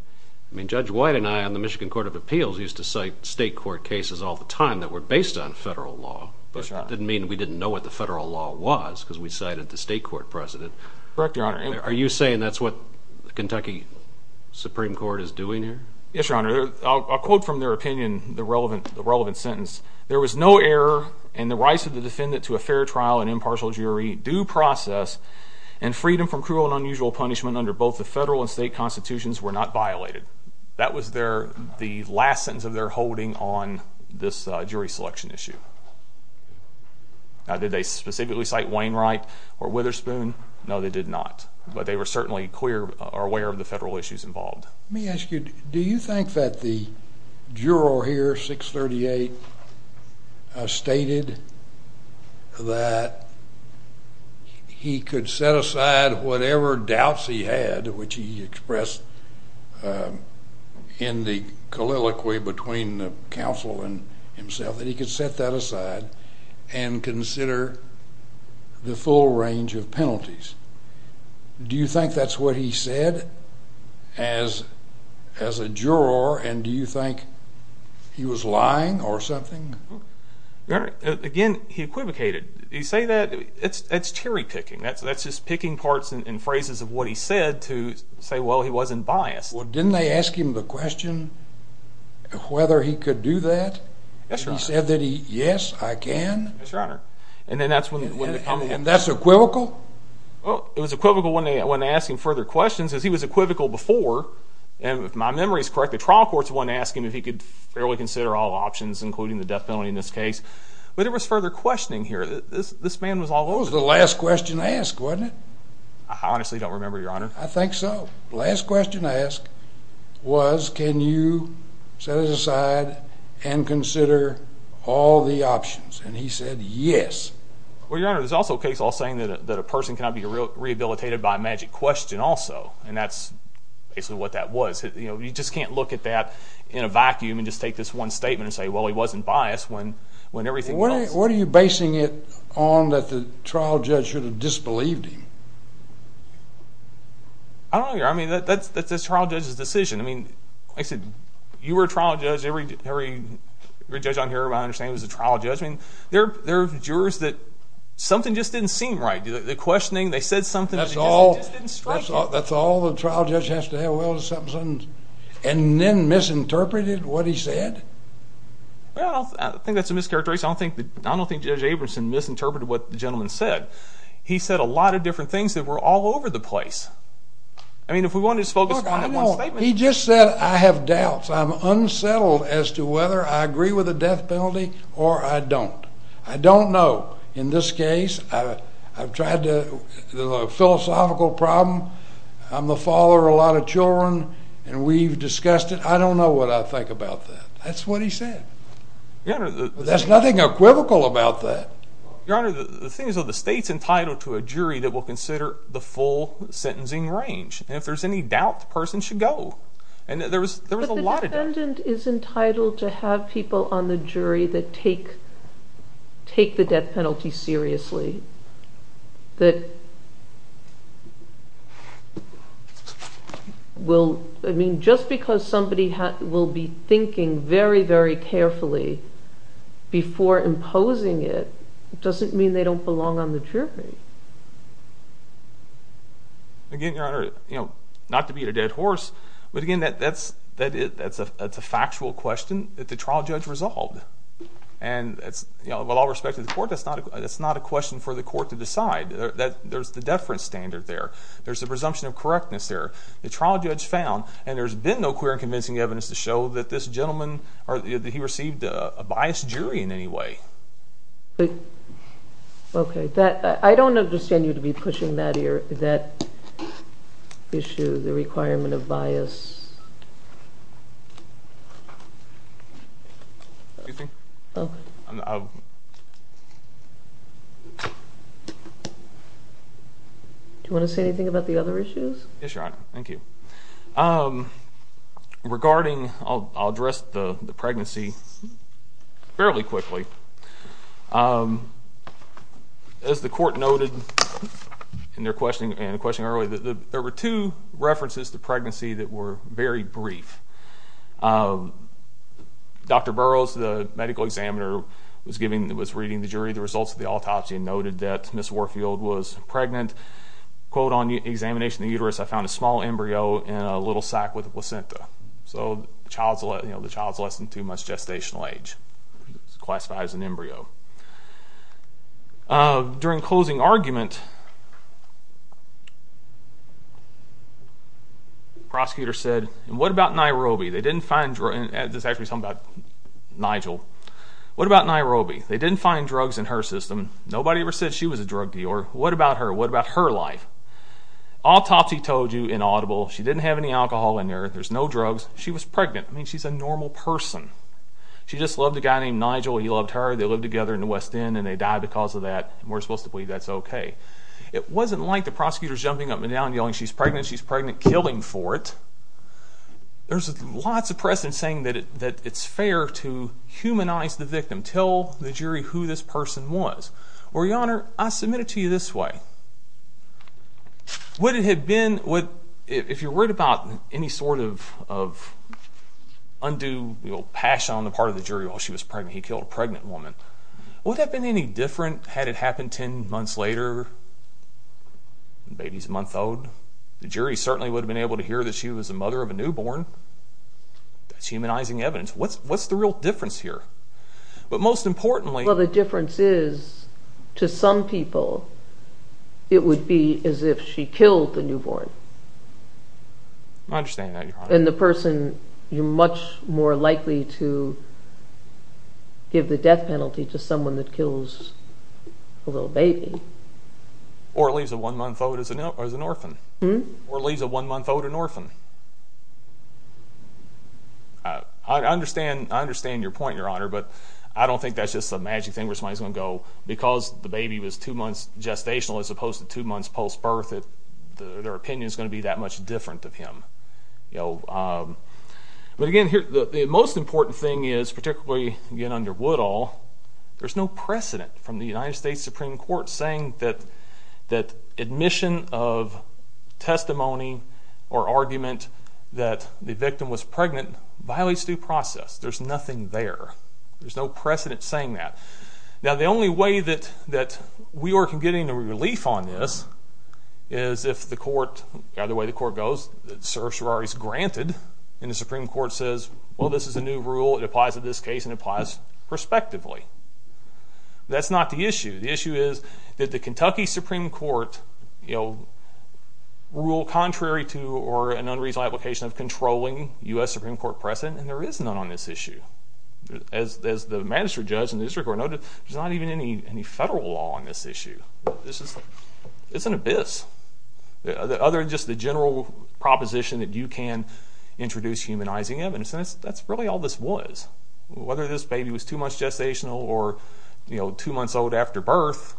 Judge White and I on the Michigan Court of Appeals used to cite state court cases all the time that were based on federal law, but that didn't mean we didn't know what the federal law was, because we cited the state court precedent. Correct, Your Honor. Are you saying that's what the Kentucky Supreme Court is doing here? Yes, Your Honor. I'll quote from their opinion the relevant sentence. There was no error in the rights of the defendant to a fair trial and impartial jury due process, and freedom from cruel and unusual punishment under both the federal and state constitutions were not violated. That was the last sentence of their holding on this jury selection issue. Now, did they specifically cite Wainwright or Witherspoon? No, they did not, but they were certainly aware of the federal issues involved. Let me ask you, do you think that the juror here, 638, stated that he could set aside whatever doubts he had, which he expressed in the colloquy between the counsel and himself, that he could set that aside and consider the full range of penalties? Do you think that's what he said as a juror, and do you think he was lying or something? Again, he equivocated. You say that, it's cherry-picking. That's just picking parts and phrases of what he said to say, well, he wasn't biased. Well, didn't they ask him the question whether he could do that? Yes, Your Honor. He said that he, yes, I can. Yes, Your Honor. And that's equivocal? It was equivocal when they asked him further questions, because he was equivocal before, and if my memory is correct, the trial court's the one asking if he could fairly consider all options, including the death penalty in this case. But there was further questioning here. This man was all over this. It was the last question asked, wasn't it? I honestly don't remember, Your Honor. I think so. The last question asked was can you set it aside and consider all the options, and he said yes. Well, Your Honor, there's also a case law saying that a person cannot be rehabilitated by magic question also, and that's basically what that was. You know, you just can't look at that in a vacuum and just take this one statement and say, well, he wasn't biased when everything was like that. What are you basing it on that the trial judge should have disbelieved you? I don't know, Your Honor. I mean, that's the trial judge's decision. I mean, like I said, you were a trial judge. Every judge I'm hearing about, I understand, was a trial judge, and there are jurors that something just didn't seem right. The questioning, they said something. That's all the trial judge has to say. Well, and then misinterpreted what he said? Well, I think that's a mischaracterization. I don't think Judge Abramson misinterpreted what the gentleman said. He said a lot of different things that were all over the place. I mean, if we want to just focus on one statement. He just said I have doubts. I'm unsettled as to whether I agree with the death penalty or I don't. I don't know. In this case, I've tried to do a philosophical problem. I'm a father of a lot of children, and we've discussed it. I don't know what I think about that. That's what he said. There's nothing equivocal about that. Your Honor, the thing is the state's entitled to a jury that will consider the full sentencing range. And if there's any doubt, the person should go. But the defendant is entitled to have people on the jury that take the death penalty seriously. Just because somebody will be thinking very, very carefully before imposing it, doesn't mean they don't belong on the jury. Again, Your Honor, not to beat a dead horse, but again that's a factual question that the trial judge resolved. And with all respect to the court, that's not a question for the court to decide. There's the deference standard there. There's the presumption of correctness there. The trial judge found, and there's been no clear and convincing evidence to show that this gentleman received a biased jury in any way. Okay. I don't understand you to be pushing that issue, the requirement of bias. Do you want to say anything about the other issues? Thank you. Regarding, I'll address the pregnancy fairly quickly. As the court noted in their question earlier, there were two references to pregnancy that were very brief. Dr. Burroughs, the medical examiner, was reading the jury, the results of the autopsy and noted that Ms. Warfield was pregnant. Quote on examination of the uterus, I found a small embryo in a little sac with a placenta. So the child is less than two months gestational age. It's classified as an embryo. During closing argument, prosecutor said, what about Nairobi? They didn't find drugs, and this is actually something about Nigel. What about Nairobi? They didn't find drugs in her system. Nobody ever said she was a drug dealer. What about her? What about her life? Autopsy told you inaudible. She didn't have any alcohol in there. There's no drugs. She was pregnant. I mean, she's a normal person. She just loved a guy named Nigel. He loved her. They lived together in the West End, and they died because of that. We're supposed to believe that's okay. It wasn't like the prosecutor's jumping up and down, yelling she's pregnant, she's pregnant, killing for it. There's lots of precedent saying that it's fair to humanize the victim, tell the jury who this person was. Well, Your Honor, I submit it to you this way. Would it have been, if you're worried about any sort of undue passion on the part of the jury while she was pregnant, he killed a pregnant woman, would that have been any different had it happened ten months later, the baby's a month old? The jury certainly would have been able to hear that she was the mother of a newborn. That's humanizing evidence. What's the real difference here? But most importantly, Well, the difference is, to some people, it would be as if she killed the newborn. I understand that, Your Honor. And the person, you're much more likely to give the death penalty to someone that kills a little baby. Or leaves a one-month-old as an orphan. Or leaves a one-month-old an orphan. I understand your point, Your Honor, but I don't think that's just a magic thing where somebody's going to go, because the baby was two months gestational as opposed to two months post-birth, their opinion's going to be that much different of him. But again, the most important thing is, particularly, again, under Woodall, there's no precedent from the United States Supreme Court saying that admission of testimony or argument that the victim was pregnant violates due process. There's nothing there. There's no precedent saying that. Now, the only way that we are getting a relief on this is if the court, the other way the court goes, the certiorari's granted, and the Supreme Court says, well, this is a new rule, it applies to this case, and it applies prospectively. That's not the issue. The issue is that the Kentucky Supreme Court ruled contrary to or an unreasonable application of controlling U.S. Supreme Court precedent, and there is none on this issue. As the magistrate judge in the district court noted, there's not even any federal law on this issue. It's an abyss. Other than just the general proposition that you can introduce humanizing of, in a sense, that's really all this was. Whether this baby was two months gestational or two months old after birth,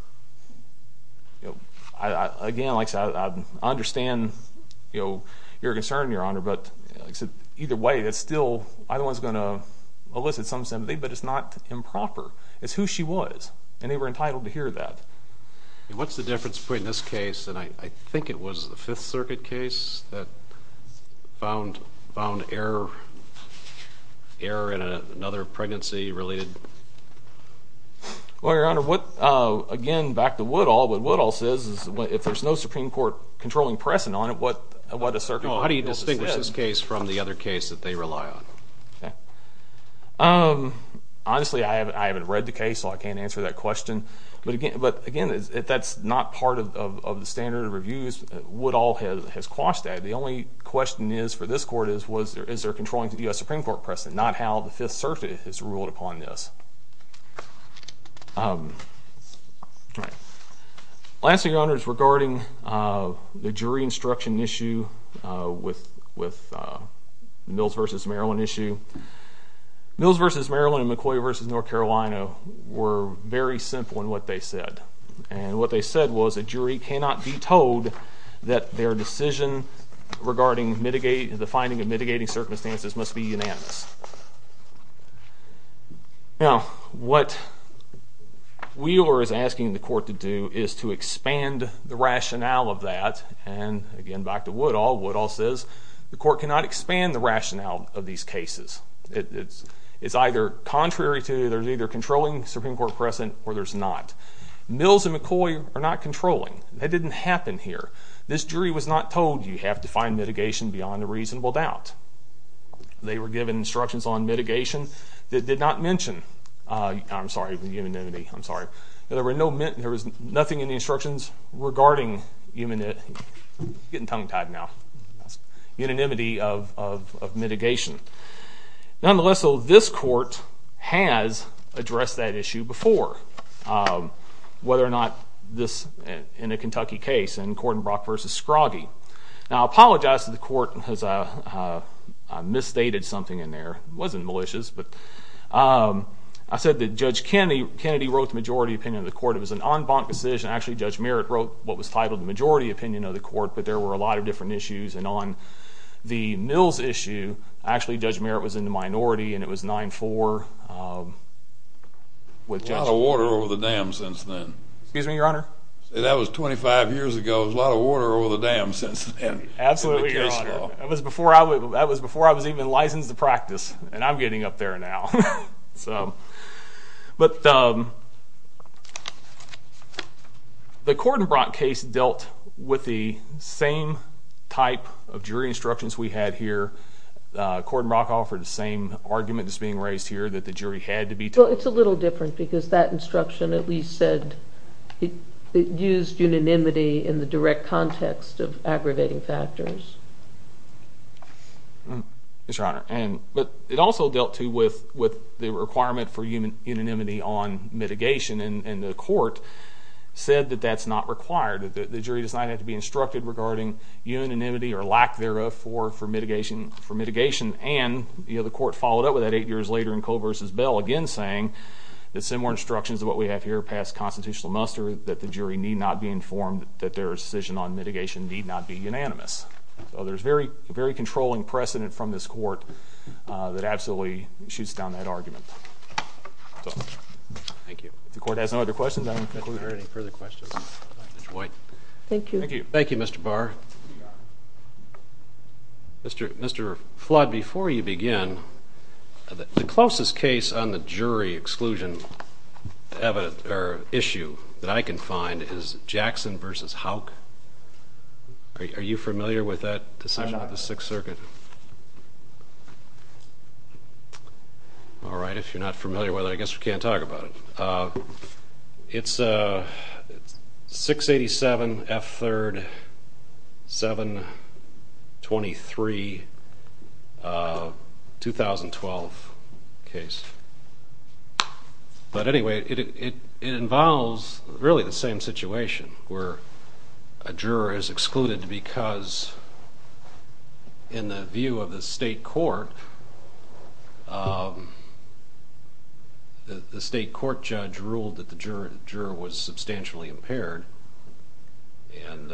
again, like I said, I understand your concern, Your Honor, but either way, it's still, either one's going to elicit some sympathy, but it's not improper. It's who she was, and they were entitled to hear that. What's the difference between this case, and I think it was the Fifth Circuit case, that found error in another pregnancy-related... Well, Your Honor, what, again, back to Woodall, what Woodall says is if there's no Supreme Court controlling precedent on it, what a circuit... How do you distinguish this case from the other case that they rely on? Honestly, I haven't read the case, so I can't answer that question, but again, that's not part of the standard of reviews. Woodall has quashed that. The only question for this Court is, is there a controlling U.S. Supreme Court precedent, not how the Fifth Circuit has ruled upon this. I'll answer, Your Honor, regarding the jury instruction issue with Mills v. Maryland issue. Mills v. Maryland and McCoy v. North Carolina were very simple in what they said, and what they said was a jury cannot be told that their decision regarding the finding of mitigating circumstances must be unanimous. Now, what Wheeler is asking the Court to do is to expand the rationale of that, and again, back to Woodall, Woodall says, the Court cannot expand the rationale of these cases. It's either contrary to, there's either controlling Supreme Court precedent, or there's not. Mills and McCoy are not controlling. That didn't happen here. This jury was not told you have to find mitigation beyond a reasonable doubt. They were given instructions on mitigation that did not mention, I'm sorry, the unanimity, I'm sorry, there was nothing in the instructions regarding, I'm getting tongue-tied now, unanimity of mitigation. Nonetheless, though, this Court has addressed that issue before. Whether or not this, in a Kentucky case, in Cordenbrock v. Scroggie. Now, I apologize to the Court, because I misstated something in there. It wasn't malicious. I said that Judge Kennedy wrote the majority opinion of the Court. It was an en banc decision. Actually, Judge Merritt wrote what was titled the majority opinion of the Court, but there were a lot of different issues, and on the Mills issue, actually, Judge Merritt was in the minority, and it was 9-4. A lot of water over the dam since then. Excuse me, Your Honor? That was 25 years ago. A lot of water over the dam since then. Absolutely, Your Honor. That was before I was even licensed to practice, and I'm getting up there now. But the Cordenbrock case dealt with the same type of jury instructions we had here. Cordenbrock offered the same argument that's being raised here, that the jury had to be told. Well, it's a little different, because that instruction at least said it used unanimity in the direct context of aggravating factors. Yes, Your Honor. But it also dealt, too, with the requirement for unanimity on mitigation, and the Court said that that's not required. The jury does not have to be instructed regarding unanimity or lack thereof for mitigation, and the Court followed up with that eight years later in Cole v. Bell, again saying that similar instructions of what we have here pass constitutional muster, that the jury need not be informed that their decision on mitigation need not be unanimous. So there's a very controlling precedent from this Court that absolutely shoots down that argument. Thank you. If the Court has no other questions, I don't think we have any further questions. Thank you. Thank you, Mr. Barr. Mr. Flood, before you begin, the closest case on the jury exclusion issue that I can find is Jackson v. Houck. Are you familiar with that decision on the Sixth Circuit? I'm not. All right. If you're not familiar with it, I guess we can't talk about it. It's a 687 F3rd 723 2012 case. But anyway, it involves really the same situation where a juror is excluded because in the view of the State Court, the State Court judge ruled that the juror was substantially impaired, and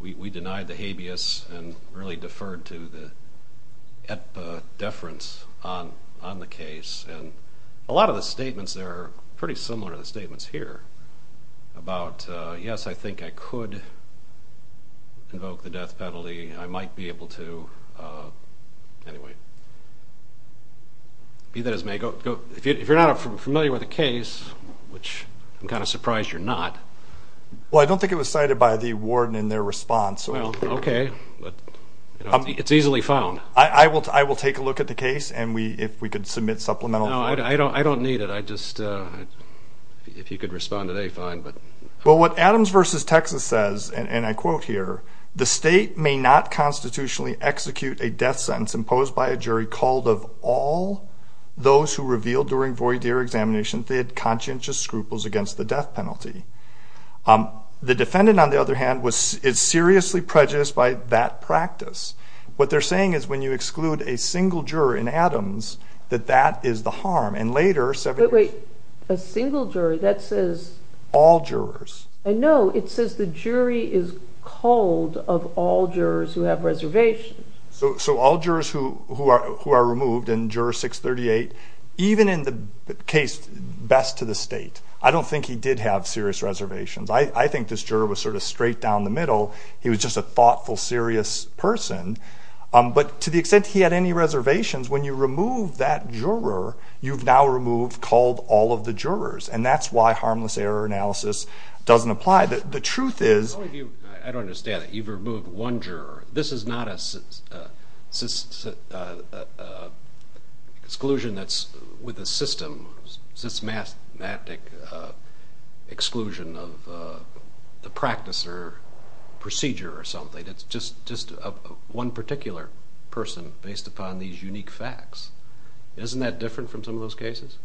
we denied the habeas and really deferred to the deference on the case. And a lot of the statements there are pretty similar to the statements here about, yes, I think I could invoke the death penalty. I might be able to. Anyway. If you're not familiar with the case, which I'm kind of surprised you're not. Well, I don't think it was cited by the warden in their response. Okay. It's easily found. I will take a look at the case, and if we could submit supplemental evidence. No, I don't need it. If you could respond today, fine. Well, what Adams v. Texas says, and I quote here, the state may not constitutionally execute a death sentence imposed by a jury called of all those who revealed during voir dire examinations they had conscientious scruples against the death penalty. The defendant, on the other hand, is seriously prejudiced by that practice. What they're saying is when you exclude a single juror in Adams, that that is the harm. But wait, a single juror? All jurors. No, it says the jury is called of all jurors who have reservations. So all jurors who are removed in Juror 638, even in the case best to the state, I don't think he did have serious reservations. I think this juror was sort of straight down the middle. He was just a thoughtful, serious person. But to the extent he had any reservations, when you remove that juror, you've now removed called all of the jurors, and that's why harmless error analysis doesn't apply. The truth is— I don't understand it. You've removed one juror. This is not an exclusion that's with the system, systematic exclusion of the practice or procedure or something. It's just one particular person based upon these unique facts. Isn't that different from some of those cases?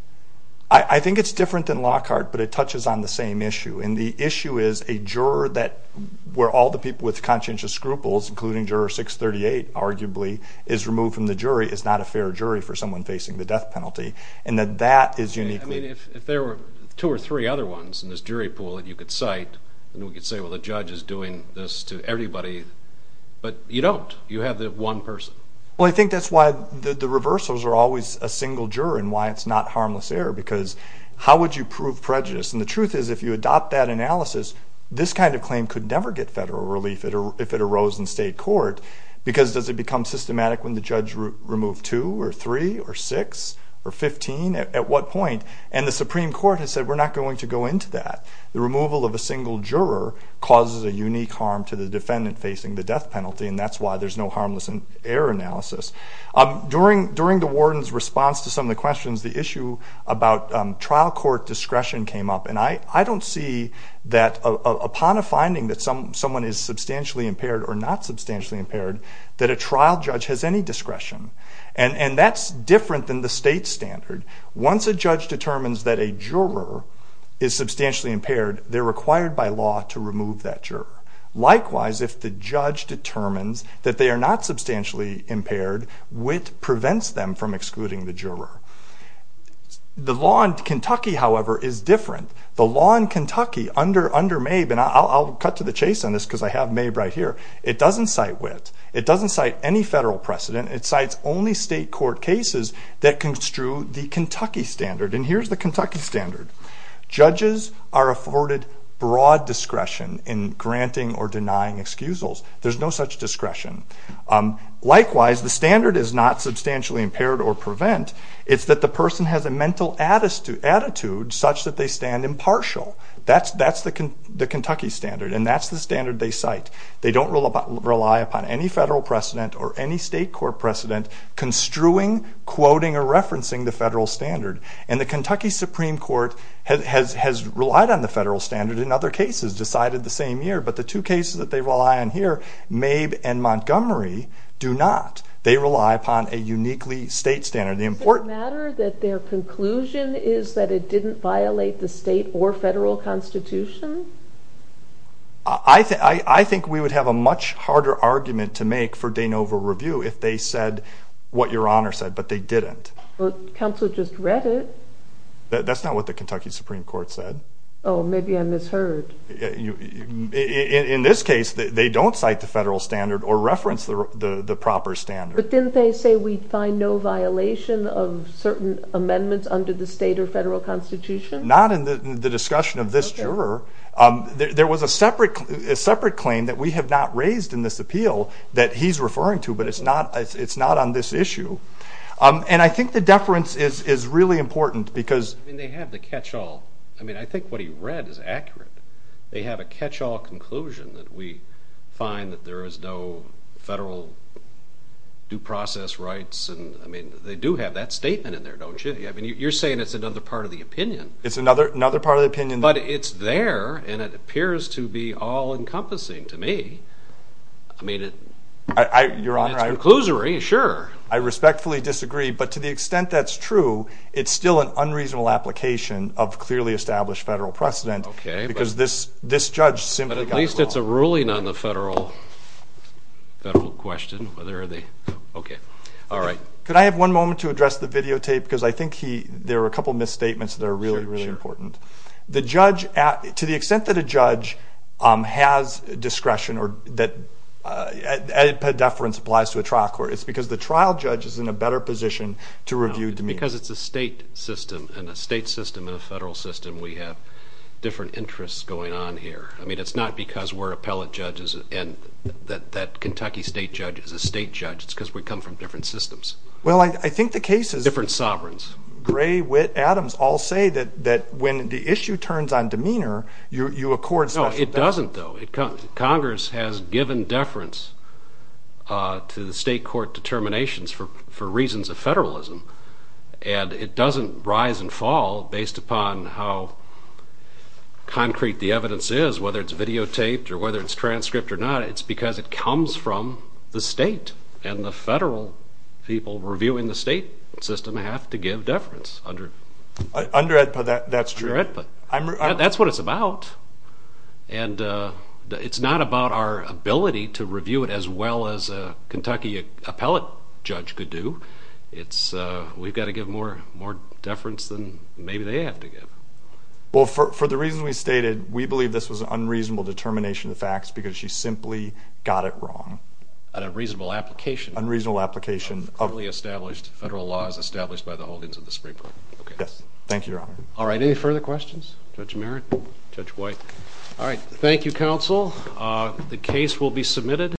I think it's different than Lockhart, but it touches on the same issue, and the issue is a juror where all the people with conscientious scruples, including Juror 638 arguably, is removed from the jury is not a fair jury for someone facing the death penalty, and that that is uniquely— I mean, if there were two or three other ones in this jury pool that you could cite, and we could say, well, the judge is doing this to everybody, but you don't. You have the one person. Well, I think that's why the reversals are always a single juror and why it's not harmless error because how would you prove prejudice? And the truth is if you adopt that analysis, this kind of claim could never get federal relief if it arose in state court because does it become systematic when the judge removed two or three or six or 15? At what point? And the Supreme Court has said we're not going to go into that. The removal of a single juror causes a unique harm to the defendant facing the death penalty, and that's why there's no harmless error analysis. During the warden's response to some of the questions, the issue about trial court discretion came up, and I don't see that upon a finding that someone is substantially impaired or not substantially impaired that a trial judge has any discretion, and that's different than the state standard. Once a judge determines that a juror is substantially impaired, they're required by law to remove that juror. Likewise, if the judge determines that they are not substantially impaired, WIT prevents them from excluding the juror. The law in Kentucky, however, is different. The law in Kentucky under MABE, and I'll cut to the chase on this because I have MABE right here, it doesn't cite WIT. It doesn't cite any federal precedent. It cites only state court cases that construe the Kentucky standard, and here's the Kentucky standard. Judges are afforded broad discretion in granting or denying excusals. There's no such discretion. Likewise, the standard is not substantially impaired or prevent. It's that the person has a mental attitude such that they stand impartial. That's the Kentucky standard, and that's the standard they cite. They don't rely upon any federal precedent or any state court precedent construing, quoting, or referencing the federal standard, and the Kentucky Supreme Court has relied on the federal standard in other cases decided the same year, but the two cases that they rely on here, MABE and Montgomery, do not. They rely upon a uniquely state standard. Does it matter that their conclusion is that it didn't violate the state or federal constitution? I think we would have a much harder argument to make for de novo review if they said what Your Honor said, but they didn't. Well, counsel just read it. That's not what the Kentucky Supreme Court said. Oh, maybe I misheard. In this case, they don't cite the federal standard or reference the proper standard. But didn't they say we find no violation of certain amendments under the state or federal constitution? Not in the discussion of this juror. There was a separate claim that we have not raised in this appeal that he's referring to, but it's not on this issue. And I think the deference is really important because they have the catch-all. I mean, I think what he read is accurate. They have a catch-all conclusion that we find that there is no federal due process rights. I mean, they do have that statement in there, don't you? I mean, you're saying it's another part of the opinion. It's another part of the opinion. But it's there, and it appears to be all-encompassing to me. I mean, it's a conclusion, sure. I respectfully disagree, but to the extent that's true, it's still an unreasonable application of clearly established federal precedent because this judge simply doesn't know. But at least it's a ruling on the federal question. Okay, all right. Could I have one moment to address the videotape? Because I think there are a couple misstatements that are really, really important. To the extent that a judge has discretion or a deference applies to a trial court, it's because the trial judge is in a better position to review demeanor. No, because it's a state system, and the state system and the federal system, we have different interests going on here. I mean, it's not because we're appellate judges and that Kentucky state judge is a state judge. It's because we come from different systems. Well, I think the case is – Different sovereigns. Gray, Witt, Adams all say that when the issue turns on demeanor, you accord such a thing. No, it doesn't, though. Congress has given deference to the state court determinations for reasons of federalism, and it doesn't rise and fall based upon how concrete the evidence is, whether it's videotaped or whether it's transcripted or not. It's because it comes from the state, and the federal people reviewing the state system have to give deference. That's true. That's what it's about. And it's not about our ability to review it as well as a Kentucky appellate judge could do. We've got to give more deference than maybe they have to give. Well, for the reasons we stated, we believe this was an unreasonable determination of facts because she simply got it wrong. On a reasonable application. On a reasonable application. Utterly established. Federal law is established by the holdings of the state court. Yes, thank you, Your Honor. All right, any further questions? Judge Merritt? Judge White? All right, thank you, counsel. The case will be submitted.